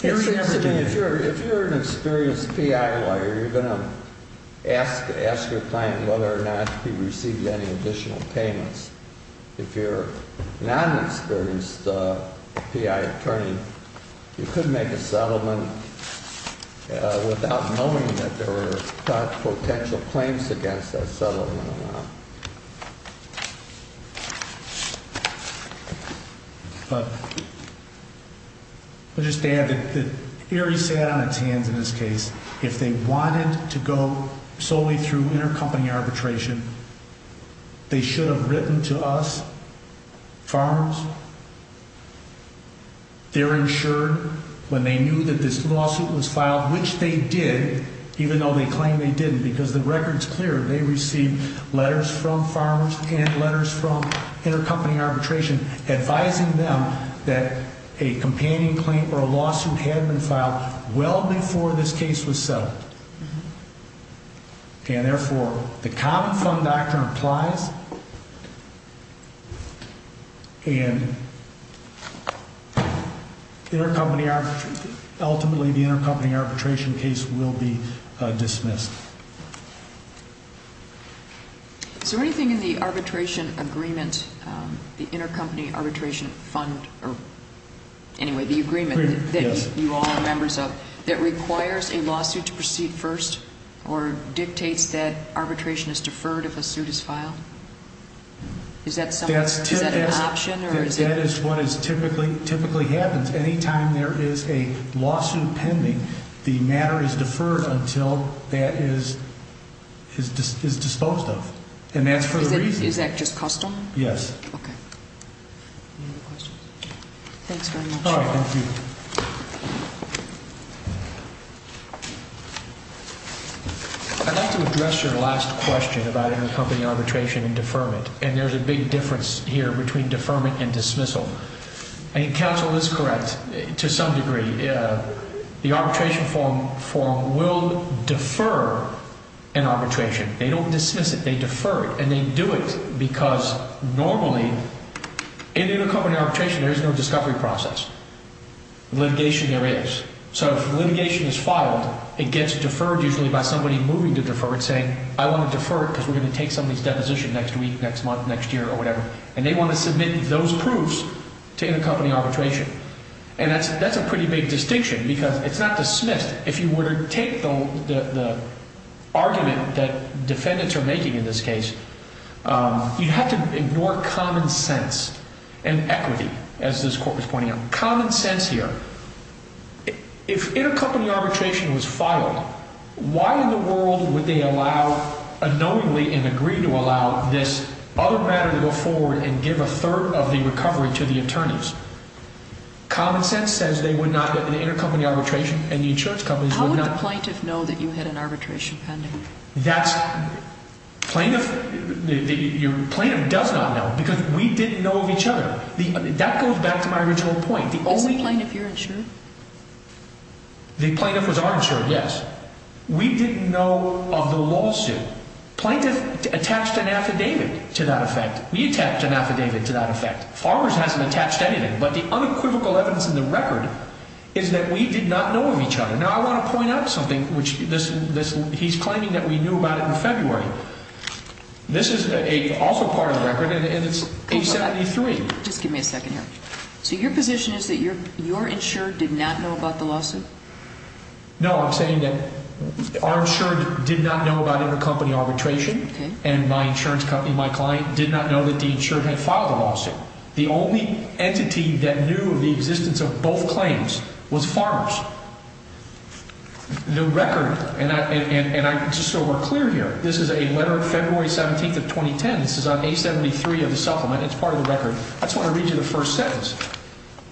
If you're an experienced PI lawyer, you're going to ask your client whether or not he received any additional payments. If you're a non-experienced PI attorney, you couldn't make a settlement without knowing that there were potential claims against that settlement or not. But I'll just add that AREA sat on its hands in this case. If they wanted to go solely through intercompany arbitration, they should have written to us, farms, their insurer, when they knew that this lawsuit was filed, which they did, even though they claimed they didn't, because the record's clear. They received letters from farms and letters from intercompany arbitration advising them that a companion claim for a lawsuit had been filed well before this case was settled. And therefore, the common fund doctrine applies. And ultimately, the intercompany arbitration case will be dismissed. Is there anything in the arbitration agreement, the intercompany arbitration fund, or anyway, the agreement that you all are members of, that requires a lawsuit to proceed first or dictates that arbitration is deferred if a suit is filed? Is that an option? That is what typically happens. If any time there is a lawsuit pending, the matter is deferred until that is disposed of. And that's for the reason. Is that just custom? Yes. I'd like to address your last question about intercompany arbitration and deferment. And there's a big difference here between deferment and dismissal. And counsel is correct to some degree. The arbitration form will defer an arbitration. They don't dismiss it. They defer it. And they do it because normally, in intercompany arbitration, there is no discovery process. Litigation, there is. So if litigation is filed, it gets deferred usually by somebody moving to defer it, saying, I want to defer it because we're going to take somebody's deposition next week, next month, next year, or whatever. And they want to submit those proofs to intercompany arbitration. And that's a pretty big distinction because it's not dismissed. If you were to take the argument that defendants are making in this case, you have to ignore common sense and equity, as this court was pointing out. Common sense here. If intercompany arbitration was filed, why in the world would they allow, unknowingly and agree to allow, this other matter to go forward and give a third of the recovery to the attorneys? Common sense says they would not, but the intercompany arbitration and the insurance companies would not. How would the plaintiff know that you had an arbitration pending? Your plaintiff does not know because we didn't know of each other. That goes back to my original point. Is the plaintiff your insurance? The plaintiff is our insurance, yes. We didn't know of the lawsuit. The plaintiff attached an affidavit to that effect. We attached an affidavit to that effect. Farmers hasn't attached anything. But the unequivocal evidence in the record is that we did not know of each other. Now, I want to point out something, which he's claiming that we knew about it in February. This is also part of the record, and it's A-72A. Just give me a second here. So your position is that your insurer did not know about the lawsuit? No, I'm saying that our insurer did not know about intercompany arbitration, and my insurance company, my client, did not know that the insurer had filed a lawsuit. The only entity that knew of the existence of both claims was farmers. The record, and I'm still more clear here, this is a letter of February 17th of 2010. This is on A-73 in the supplement. That's part of the record. I just want to read you the first sentence.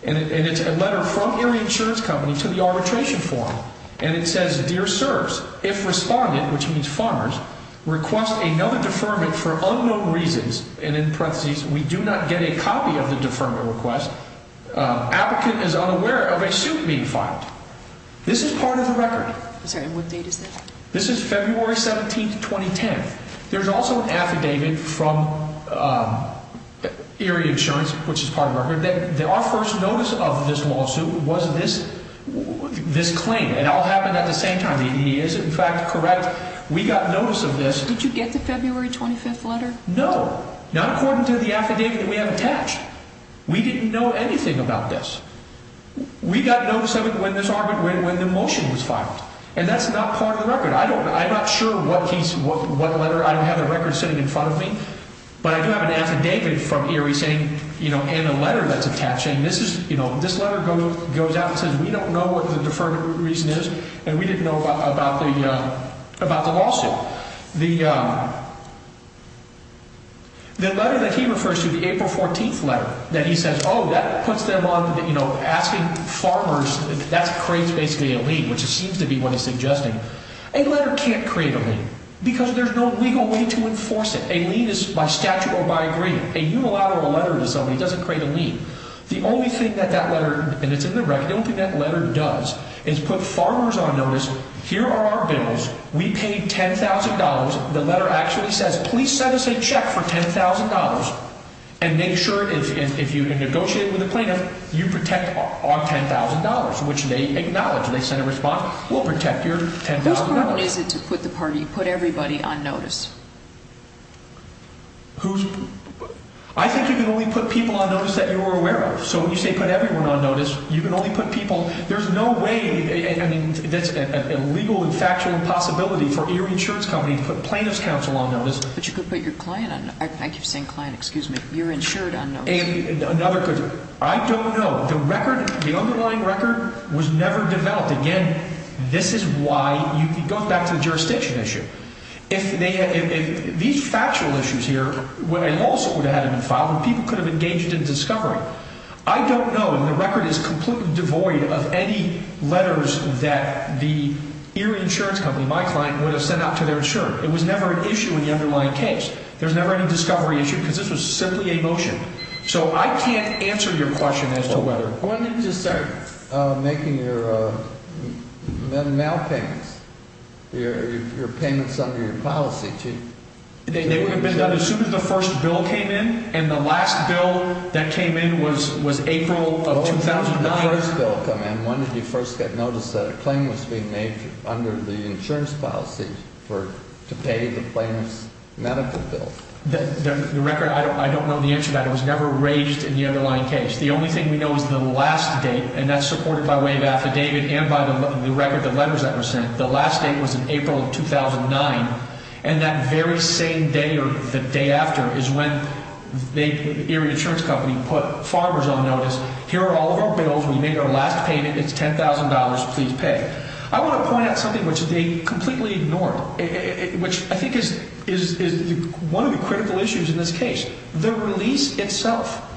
And it's a letter from your insurance company to the arbitration firm. And it says, Dear Sirs, if respondent, which means farmers, requests a known deferment for unknown reasons, and in practice we do not get a copy of the deferment request, applicant is unaware of a suit being filed. This is part of the record. This is February 17th, 2010. There's also an affidavit from Erie Insurance, which is part of the record, that our first notice of this lawsuit was this claim. It all happened at the same time. He is, in fact, correct. We got notice of this. Did you get the February 25th letter? No. Not according to the affidavit we have attached. We didn't know anything about this. And that's not part of the record. I'm not sure what letter. I don't have the record sitting in front of me. But I do have an affidavit from Erie saying, you know, in the letter that's attached, and this is, you know, this letter goes out and says we don't know what the deferment reason is, and we didn't know about the lawsuit. The letter that he refers to is April 14th letter, that he says, oh, that puts them on, you know, asking farmers, that's crazy basically to leave, which seems to be what he's suggesting. A letter can't create a lien because there's no legal way to enforce it. A lien is by statute or by agreement. A unilateral letter to somebody doesn't create a lien. The only thing that that letter, and it's in the record, the only thing that letter does is put farmers on notice, here are our bills, we paid $10,000, the letter actually says please send us a check for $10,000, and make sure if you can negotiate with the plaintiff, you protect our $10,000, which they acknowledge. So they send a response, we'll protect your $10,000. Who's obligated to put the parties, put everybody on notice? Who's, I think you can only put people on notice that you're aware of. So when you say put everyone on notice, you can only put people, there's no way, a legal and factual impossibility for your insurance company to put plaintiff's counsel on notice. But you could put your client on, I keep saying client, excuse me, your insured on notice. I don't know. The record, the underlying record was never developed. Again, this is why, you go back to the jurisdiction issue. If these factual issues here, what I also would have had in the trial, the people could have engaged in discovery. I don't know, and the record is completely devoid of any letters that the early insurance company, my client, would have sent out to their insurance. It was never an issue in the underlying case. There's never any discovery issue, because this was sent to the emotion. So I can't answer your question as to whether, what did this do? Making your mail payments, your payments under your policy. They would have been done as soon as the first bill came in, and the last bill that came in was April of 2001. When did you first get notice that a claim was being made under the insurance policy to pay the claim's medical bill? The record, I don't know the answer to that. It was never raised in the underlying case. The only thing we know is the last date, and that's supported by way of affidavit and by the record the letters that were sent. The last date was in April of 2009, and that very same day or the day after is when the early insurance company put farmers on notice, here are all of our bills. We made our last payment. It's $10,000. Please pay. I want to point out something which they completely ignored, which I think is one of the critical issues in this case, the release itself.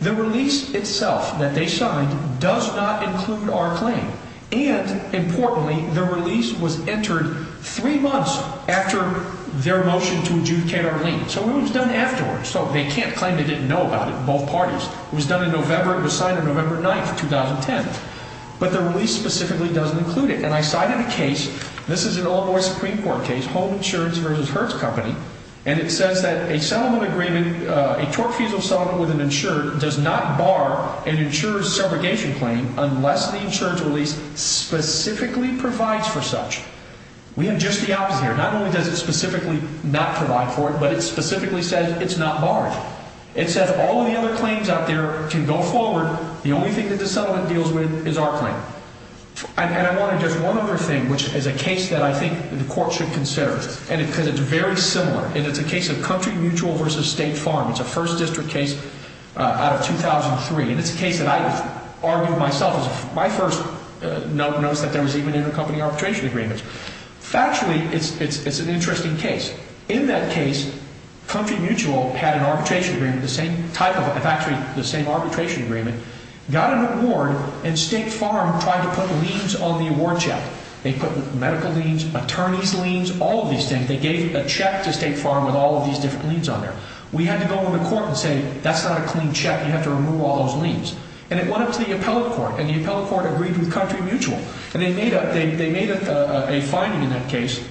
The release itself that they signed does not include our claim, and importantly, the release was entered three months after their voting to adjudicate our claim. So it was done afterwards, so they can't claim they didn't know about it in both parties. It was done in November. It was signed on November 9, 2010, but the release specifically doesn't include it, and I cited a case. This is the Illinois Supreme Court case, Home Insurance vs. Hertz Company, and it says that a settlement agreement, a tort-feasible settlement with an insurer does not bar an insurer's segregation claim unless the insurer's release specifically provides for such. We have just the opposite here. Not only does it specifically not provide for it, but it specifically says it's not barred. It said of all of the other claims out there to go forward, the only thing that this settlement deals with is our claim. And I want to address one other thing, which is a case that I think the court should consider, and it's very similar, and it's a case of Country Mutual vs. State Farm. It's a First District case out of 2003, and it's a case that I argued myself. It was my first notice that there was even intercompany arbitration agreements. Actually, it's an interesting case. In that case, Country Mutual had an arbitration agreement, the same type of it. It's actually the same arbitration agreement. Got an award, and State Farm tried to put liens on the award check. They put medical liens, attorney's liens, all of these things. They gave a check to State Farm with all of these different liens on there. We had to go to the court and say, that's not a clean check. You have to remove all those liens. And it went up to the appellate court, and the appellate court agreed with Country Mutual. And they made a finding in that case,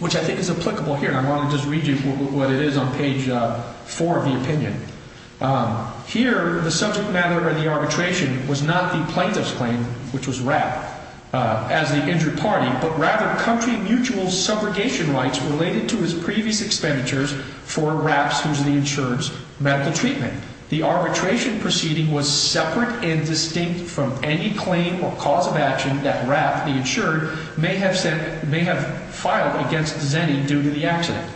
which I think is applicable here. And I want to just read you what it is on page 4 of his opinion. Here, the subject matter of the arbitration was not the plaintiff's claim, which was Rapp, as an injured party, but rather Country Mutual's subrogation rights related to his previous expenditures for Rapp's housing insurance medical treatment. The arbitration proceeding was separate and distinct from any claim or cause of action that Rapp, the insured, may have filed against Zennian due to the accident.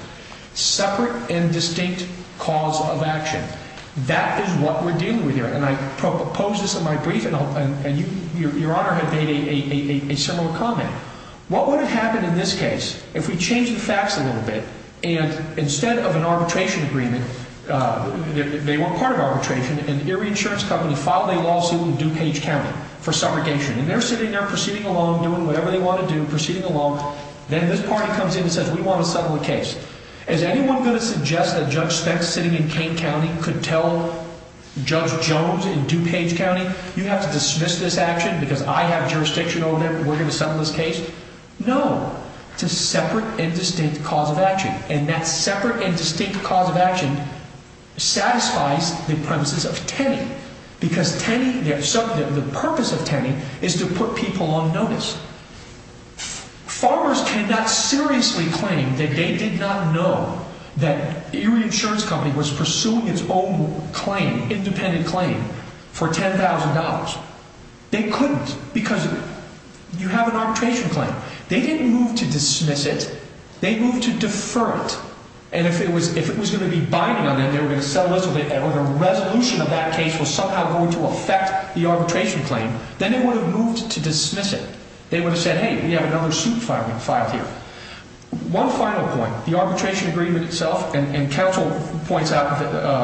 Separate and distinct cause of action. That is what we're dealing with here. And I proposed this in my brief, and your Honor had made a similar comment. What would have happened in this case if we changed the facts a little bit, and instead of an arbitration agreement, they weren't part of arbitration, and your insurance company filed a lawsuit in DuPage County for subrogation. And they're sitting there proceeding along, whatever they want to do, proceeding along. Then this party comes in and says, we want to settle the case. Is anyone going to suggest that Judge Spence sitting in DuPage County could tell Judge Jones in DuPage County, you have to dismiss this action because I have jurisdiction over it, and we're going to settle this case? No. It's a separate and distinct cause of action. And that separate and distinct cause of action satisfies the premises of tending, because the purpose of tending is to put people on notice. Farmers cannot seriously claim that they did not know that your insurance company was pursuing its own claim, independent claim, for $10,000. They couldn't, because you have an arbitration claim. They didn't move to dismiss it. They moved to defer it. And if it was going to be binding on them, and the resolution of that case was somehow going to affect the arbitration claim, then they would have moved to dismiss it. They would have said, hey, we have another suit filed here. One final point, the arbitration agreement itself, and Ketchell points out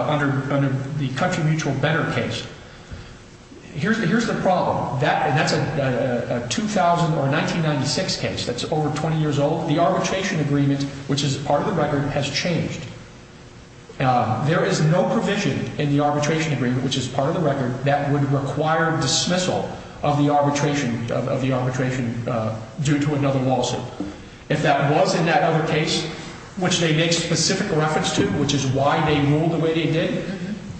under the country mutual benefit case, here's the problem. That's a 2000 or 1996 case that's over 20 years old. The arbitration agreement, which is part of the record, has changed. There is no provision in the arbitration agreement, which is part of the record, that would require dismissal of the arbitration due to another lawsuit. If that was in that other case, which they made specific reference to, which is why they ruled the way they did,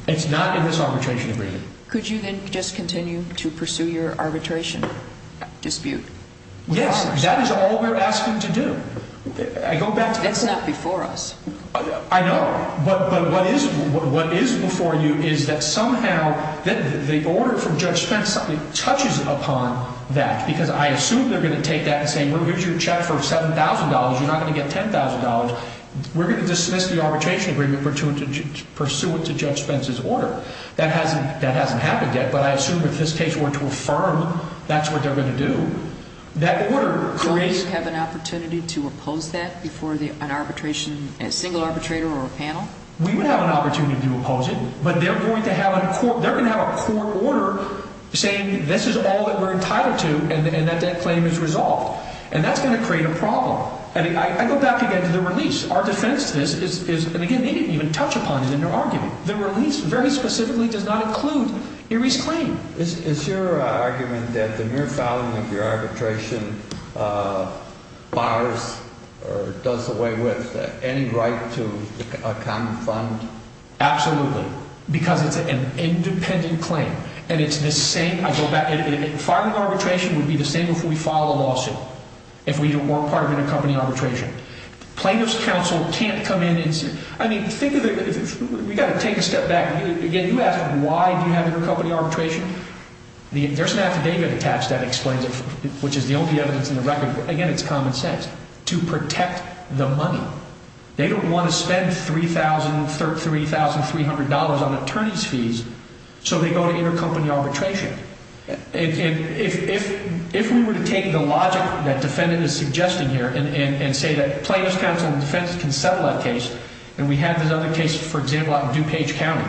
it's not in this arbitration agreement. Could you then just continue to pursue your arbitration dispute? Yes, that is all we're asking to do. That's not before us. I know, but what is before you is that somehow the order from Judge Spence touches upon that, because I assume they're going to take that and say, here's your check for $7,000, you're not going to get $10,000. We're going to dismiss the arbitration agreement to pursue it to Judge Spence's order. That hasn't happened yet, but I assume if his case were to affirm, that's what they're going to do. Do we have an opportunity to oppose that before a single arbitrator or a panel? We would have an opportunity to oppose it, but they're going to have a court order saying this is all that we're entitled to and that that claim is resolved. And that's going to create a problem. I go back again to the release. Our defense is, again, they didn't even touch upon it in their argument. The release very specifically does not include Erie's claim. Is your argument that the mere filing of your arbitration does away with any right to a common fund? Absolutely. Because it's an independent claim, and it's the same. Filing arbitration would be the same if we filed a lawsuit, if we weren't filing a company arbitration. Claimant's counsel can't come in and say, I mean, think of it. You've got to take a step back. Again, you ask them, why do you have a company arbitration? There's now data attached that explains it, which is the only evidence in the record. Again, it's common sense. To protect the money. They don't want to spend $3,300 on attorney's fees so they go to your company arbitration. If we were to take the logic that the defendant is suggesting here and say that claimant's counsel and defense can settle that case and we have another case, for example, out in DuPage County.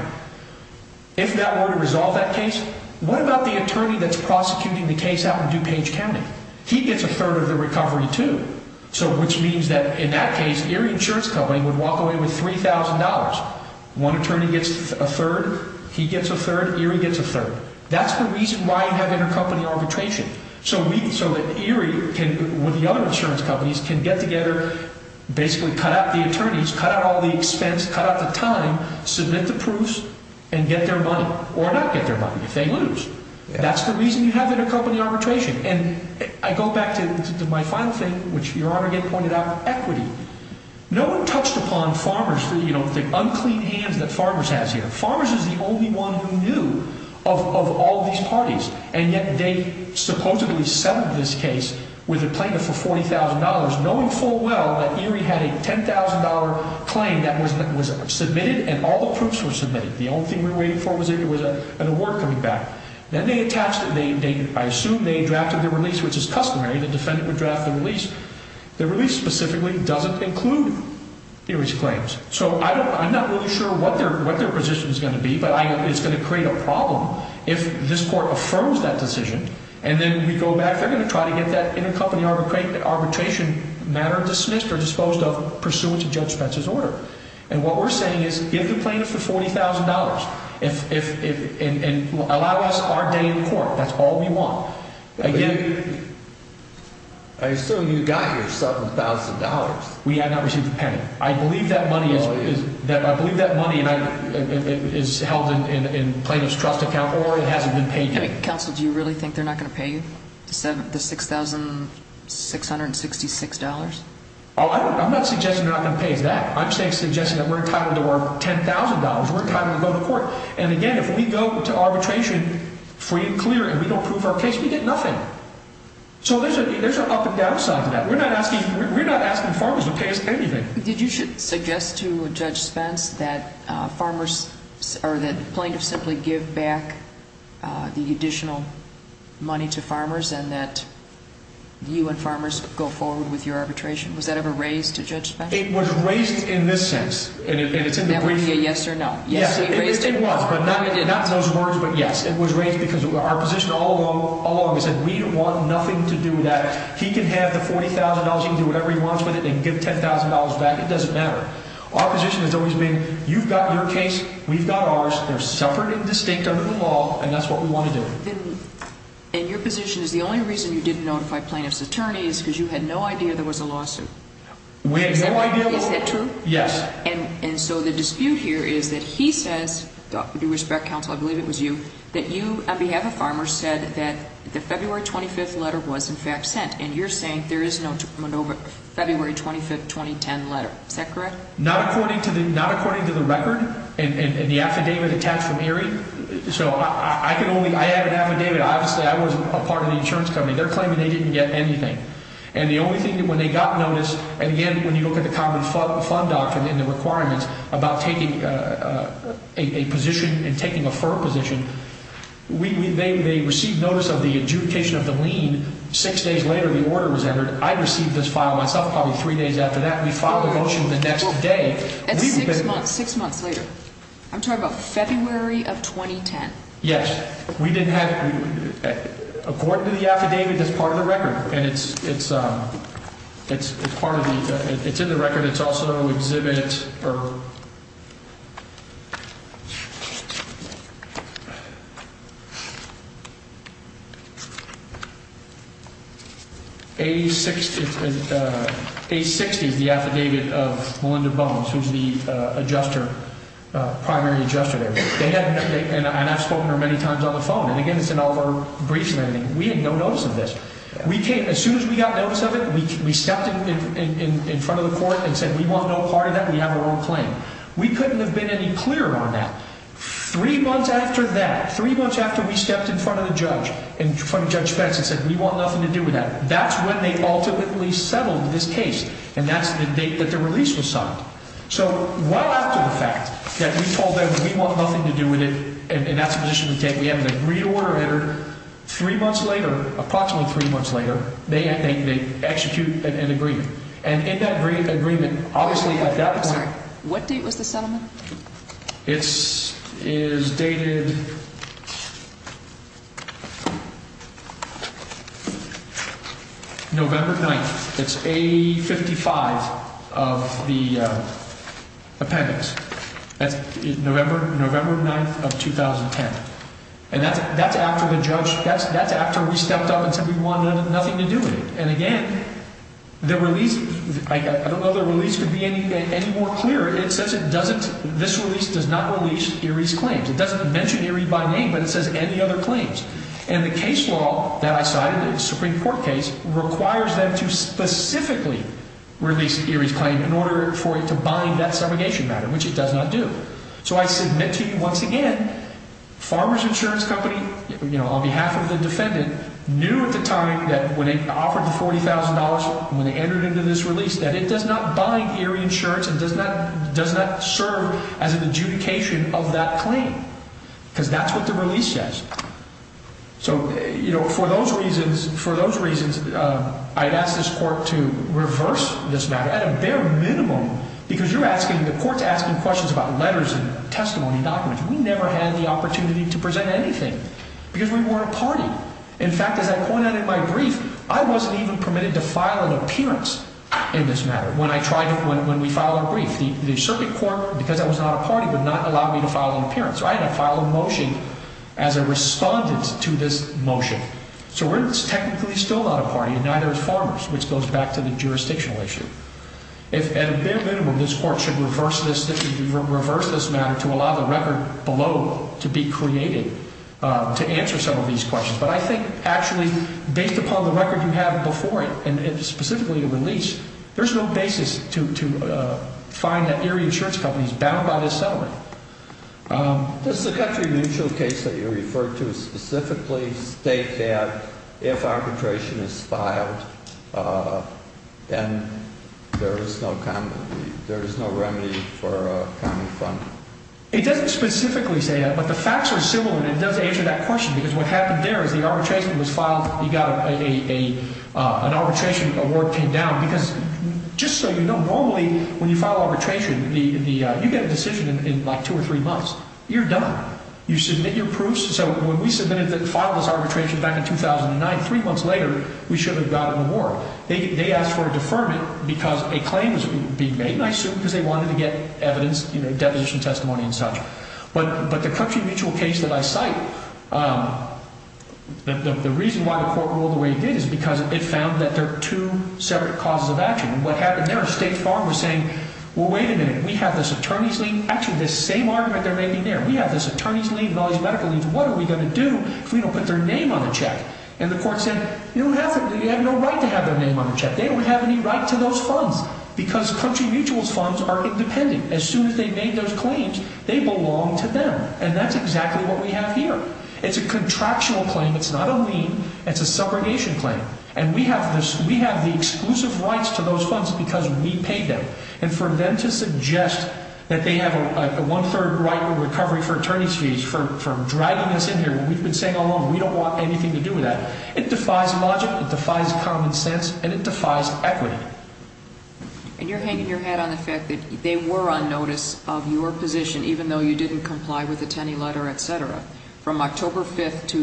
If that were to resolve that case, what about the attorney that's prosecuting the case out in DuPage County? He gets a third of the recovery, too. Which means that in that case, Erie Insurance Company would walk away with $3,000. One attorney gets a third, he gets a third, Erie gets a third. That's the reason why you have intercompany arbitration. So that Erie and the other insurance companies can get together, basically cut out the attorneys, cut out all the expense, cut out the time, submit the proofs, and get their money. Or not get their money. They lose. That's the reason you have intercompany arbitration. And I go back to my final thing, which you already pointed out, equity. No one touched upon Farmers, the unclean hand that Farmers has here. Farmers is the only one who knew of all these parties. And yet they supposedly settled this case with a plaintiff for $40,000. Knowing full well that Erie had a $10,000 claim that was submitted, and all the proofs were submitted. The only thing we were waiting for was if there was an award coming back. Then they attached it. I assume they drafted the release, which is customary. The defendant would draft the release. The release specifically doesn't include Erie's claims. So I'm not really sure what their position is going to be, but it's going to create a problem if this court affirms that decision. And then we go back. I'm going to try to get that intercompany arbitration matter dismissed or disposed of pursuant to Joe Stetson's order. And what we're saying is give the plaintiff $40,000 and allow us our day in court. That's all we want. I assume you got your $7,000. I believe that money is held in the plaintiff's trust account or it hasn't been taken. Counsel, do you really think they're not going to pay you the $6,666? I'm not suggesting that I'm going to pay you that. I'm suggesting that we're entitled to our $10,000. We're entitled to go to court. And, again, if we go to arbitration free and clear and we don't prove our case, we get nothing. So there's an up and down side to that. We're not asking farmers to pay us anything. You should suggest to Judge Spence that plaintiffs simply give back the additional money to farmers and that you and farmers go forward with your arbitration. Was that ever raised to Judge Spence? It was raised in this sense. Would that be a yes or no? Yes, it was, but not in those words, but yes. It was raised because our position all along is that we want nothing to do with that. He can have the $40,000, he'll do whatever he wants with it, and give $10,000 back. It doesn't matter. Our position has always been you've got your case, we've got ours. They're separate and distinct under the law, and that's what we want to do. And your position is the only reason you didn't notify plaintiffs' attorneys is because you had no idea there was a lawsuit. We had no idea. Is that true? Yes. And so the dispute here is that he said, Dr. DeRosberg, Counselor, I believe it was you, that you, on behalf of farmers, said that the February 25th letter was, in fact, sent. And you're saying there is no February 25th 2010 letter. Is that correct? Not according to the record and the affidavit attached to Mary. So I can only add an affidavit. Obviously, I wasn't a part of the insurance company. They're claiming they didn't get anything. And the only thing when they got notice, again, when you look at the common fund doctrine and the requirements about taking a position and taking a firm position, they received notice of the adjudication of the lien six days later the order was entered. I received this file myself probably three days after that. And six months later. I'm talking about February of 2010. Yes. We didn't have, according to the affidavit, it's part of the record. And it's part of the, it's in the record. And it's also in the affidavit for age 60, the affidavit of Melinda Bones, who is the adjuster, primary adjuster there. And I've spoken to her many times on the phone. And again, it's in all of our briefs and everything. We had no notice of this. As soon as we got notice of it, we stepped in front of the court and said, we want no part of that. We have our own claim. We couldn't have been any clearer on that. Three months after that, three months after we stepped in front of the judge, in front of Judge Spencer and said, we want nothing to do with that, that's when they ultimately settled this case. And that's the date that the release was signed. So right after the fact that we told them, we want nothing to do with it, and that's the reason we can't. Three months later, approximately three months later, they execute the agreement. And in that agreement, obviously at that time. What date was the settlement? It is dated November 9th. It's A55 of the appendix. November 9th of 2010. And that's after the judge, that's after we stepped up and said, we want nothing to do with it. And again, the release, I don't know if the release would be any more clear. It says it doesn't, this release does not release Erie's claims. It doesn't mention Erie by name, but it says any other claims. And the case law that I cited, the Supreme Court case, requires them to specifically release Erie's claim in order for it to bind that segregation matter, which it does not do. So I submit to you once again, Farmer's Insurance Company, on behalf of the defendant, knew at the time that when they offered the $40,000, when they entered into this release, that it does not bind Erie Insurance and does not serve as an adjudication of that claim. Because that's what the release says. So for those reasons, I'd ask this court to reverse this matter at a bare minimum because you're asking, the court's asking questions about letters of testimony, documents. We never had the opportunity to present anything because we weren't a party. In fact, as I pointed out in my brief, I wasn't even permitted to file an appearance in this matter when I tried to, when we filed our brief. The circuit court, because I was not a party, did not allow me to file an appearance. I had to file a motion as a respondent to this motion. So we're technically still not a party, and neither is Farmers, which goes back to the jurisdictional issue. At a bare minimum, this court should reverse this matter to allow the record below to be created to answer some of these questions. But I think actually, based upon the record you have before it, and specifically the release, there's no basis to find that Erie Insurance Company is bound by this settlement. This is a country mutual case that you referred to. It doesn't specifically state that if arbitration is filed, then there is no remedy for a family fund. It doesn't specifically say that, but the facts are similar, and it does answer that question. Because what happened there is the arbitration was filed, you got an arbitration award paid down. Just so you know, normally when you file arbitration, you get a decision in like two or three months. You're done. You submit your proofs. So when we submitted and filed this arbitration back in 2009, three months later, we should have gotten more. They asked for a deferment because a claim was being made, and I assume because they wanted to get evidence, you know, a deposition testimony and such. But the country mutual case that I cite, the reason why the court ruled the way it did is because it found that there are two separate causes of action. What happened there is the state of Farmers saying, well, wait a minute, we have this attorney's lien. Actually, it's the same argument they're making there. We have this attorney's lien, volumetric lien. What are we going to do if we don't put their name on the check? And the court said, you know what, they have no right to have their name on the check. They don't have any right to those funds because country mutual's funds are independent. As soon as they made those claims, they belong to them. And that's exactly what we have here. It's a contractual claim. It's not a lien. It's a subrogation claim. And we have the exclusive rights to those funds because we paid them. And for them to suggest that they have a one-third right to recovery for attorney's fees for dragging us in here, we've been saying all along we don't want anything to do with that. It defies logic, it defies common sense, and it defies equity. And you're hanging your head on the fact that they were on notice of your position even though you didn't comply with the Tenney letter, et cetera, from October 5th to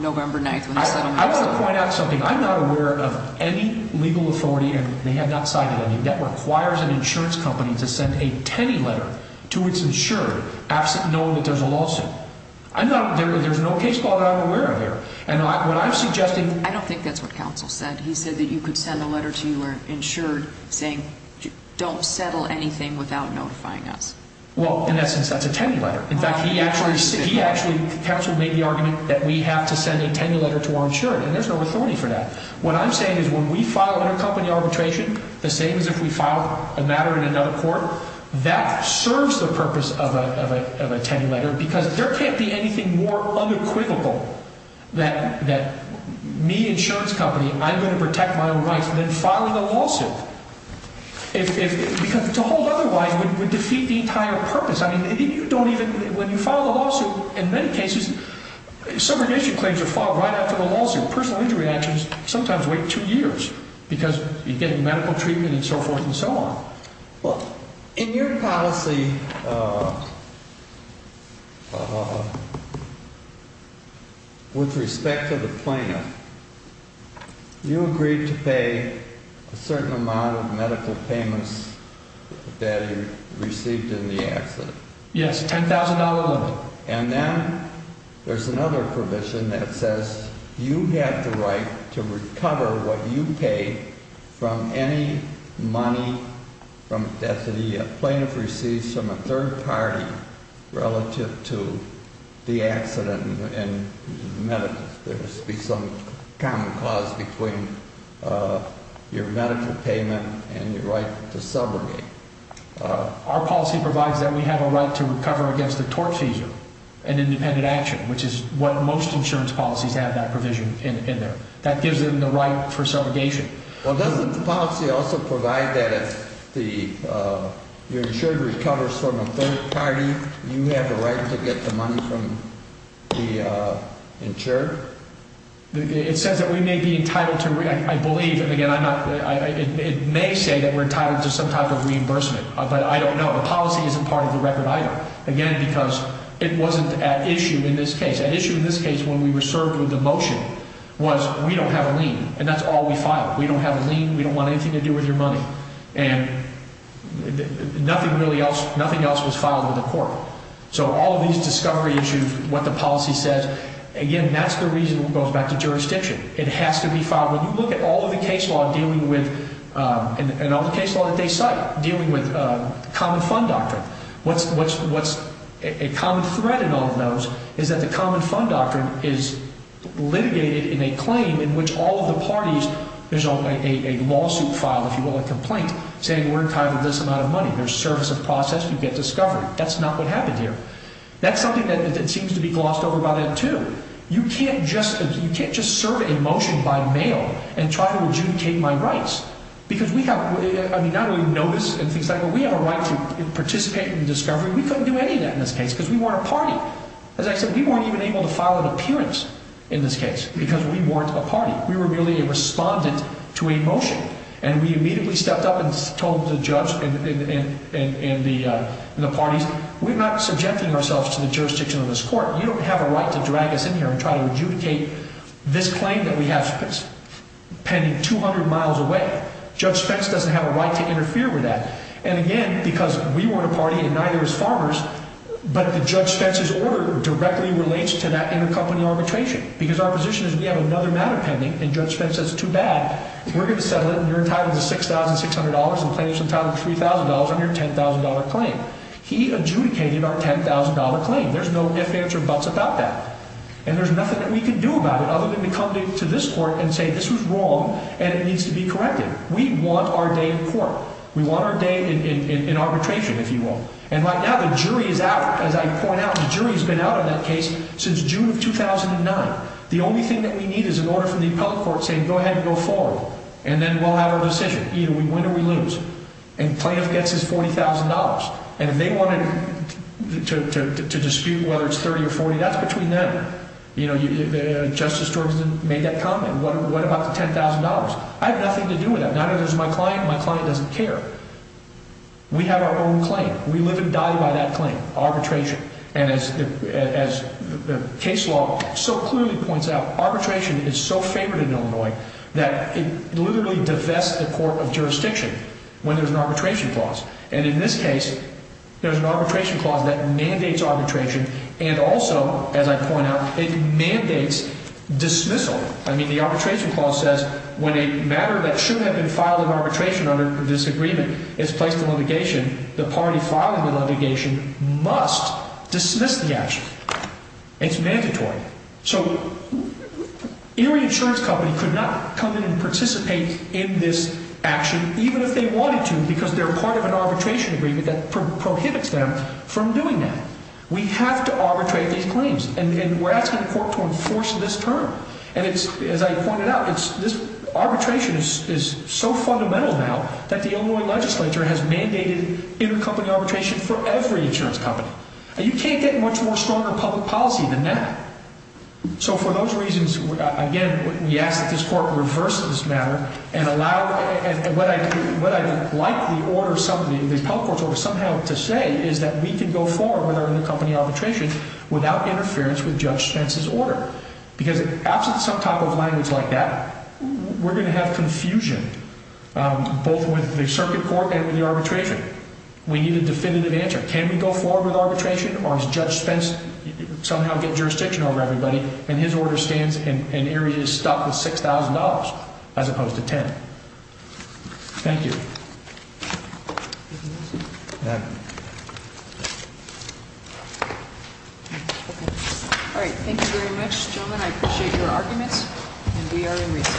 November 9th. I want to point out something. I'm not aware of any legal authority, and they have not cited any, that requires an insurance company to send a Tenney letter to its insured not knowing that there's a lawsuit. There's no case law that I'm aware of here. I don't think that's what counsel said. He said that you could send a letter to your insured saying don't settle anything without notifying us. Well, in essence, that's a Tenney letter. In fact, he actually made the argument that we have to send a Tenney letter to our insured, and there's no authority for that. What I'm saying is when we file our company arbitration, the same as if we filed a matter in another court, that serves the purpose of a Tenney letter because there can't be anything more unequivocal that me, insurance company, I'm going to protect my own right than filing a lawsuit. Because to hold otherwise would defeat the entire purpose. I mean, if you don't even – when you file a lawsuit, in many cases subordination claims are filed right after the lawsuit. Personal injury actions sometimes wait two years because you're getting medical treatment and so forth and so on. Well, in your policy, with respect to the plan, you agreed to pay a certain amount of medical payments that you received in the accident. Yes, $10,000 a month. And then there's another provision that says you have the right to recover what you paid from any money that you have claimed that you received from a third party relative to the accident. And there must be some common cause between your medical payment and your right to subordination. Our policy provides that we have a right to recover against a tort seizure, an independent action, which is what most insurance policies have, that provision in there. That gives them the right for subordination. Well, doesn't the policy also provide that your insurance recovers from a third party? You have the right to get the money from the insurer? It says that we may be entitled to – I believe, and again, it may say that we're entitled to some type of reimbursement. But I don't know. The policy isn't part of the record either. Again, because it wasn't at issue in this case. At issue in this case, when we were served with the motion, was we don't have a lien, and that's all we filed. We don't have a lien. We don't want anything to do with your money. And nothing else was filed in the court. So all these discovery issues, what the policy says, again, that's the reason it goes back to jurisdiction. It has to be filed. Look at all of the case law dealing with – and all the case law that they cite dealing with common fund doctrine. What's a common thread in all of those is that the common fund doctrine is litigated in a claim in which all of the parties – there's a lawsuit filed, if you will, a complaint, saying we're entitled to this amount of money. There's service of process. You get discovery. That's not what happened here. That's something that seems to be glossed over by that too. You can't just serve a motion by mail and try to adjudicate my rights. I mean, not only notice and things like that, but we have a right to participate in the discovery. We couldn't do any of that in this case because we weren't a party. As I said, we weren't even able to file an appearance in this case because we weren't a party. We were merely responding to a motion. And we immediately stepped up and told the judge and the parties, we're not subjecting ourselves to the jurisdiction of this court. We don't have a right to drag us in here and try to adjudicate this claim that we have pending 200 miles away. Judge Fentz doesn't have a right to interfere with that. And, again, because we weren't a party and neither was Farmers, but Judge Fentz's order directly relates to that intercompany arbitration because our position is we have another matter pending, and Judge Fentz says too bad. We're going to settle it, and we're entitled to $6,600 and plaintiffs entitled to $3,000 on your $10,000 claim. He adjudicated our $10,000 claim. There's no ifs, ands, or buts about that. And there's nothing that we can do about it other than to come to this court and say this is wrong and it needs to be corrected. We want our day in court. We want our day in arbitration, if you will. And by now the jury is out. As I pointed out, the jury has been out on that case since June of 2009. The only thing that we need is an order from the appellate court saying go ahead and go forward and then roll out a decision. Either we win or we lose. And plaintiff gets his $40,000. And they want to dispute whether it's 30 or 40. And that's between them. The Justice Department made that comment. What about the $10,000? I have nothing to do with that. Neither does my client, and my client doesn't care. We have our own claim. We live and die by that claim, arbitration. And as case law so clearly points out, arbitration is so favored in Illinois that it literally divests the court of jurisdiction when there's an arbitration clause. And in this case, there's an arbitration clause that mandates arbitration and also, as I pointed out, it mandates dismissal. I mean, the arbitration clause says when a matter that shouldn't have been filed in arbitration under this agreement is placed in litigation, the party filing the litigation must dismiss the action. It's mandatory. So Illinois insurance companies could not come in and participate in this action even if they wanted to because they're required to have an arbitration agreement that prohibits them from doing that. We have to arbitrate these claims, and we're asking the court to enforce this term. And as I pointed out, arbitration is so fundamental now that the Illinois legislature has mandated inter-company arbitration for every insurance company. You can't get much more stronger public policy than that. So for those reasons, again, we ask that this court reverse this matter and what I would like the order of the public court somehow to say is that we can go forward with our inter-company arbitration without interference with Judge Spence's order. Because an absolute subtype of language like that, we're going to have confusion both with the circuit court and with the arbitrator. We need a definitive answer. Can we go forward with arbitration or does Judge Spence somehow get jurisdiction over everybody and his order stands in areas stuck with $6,000 as opposed to $10,000? Thank you.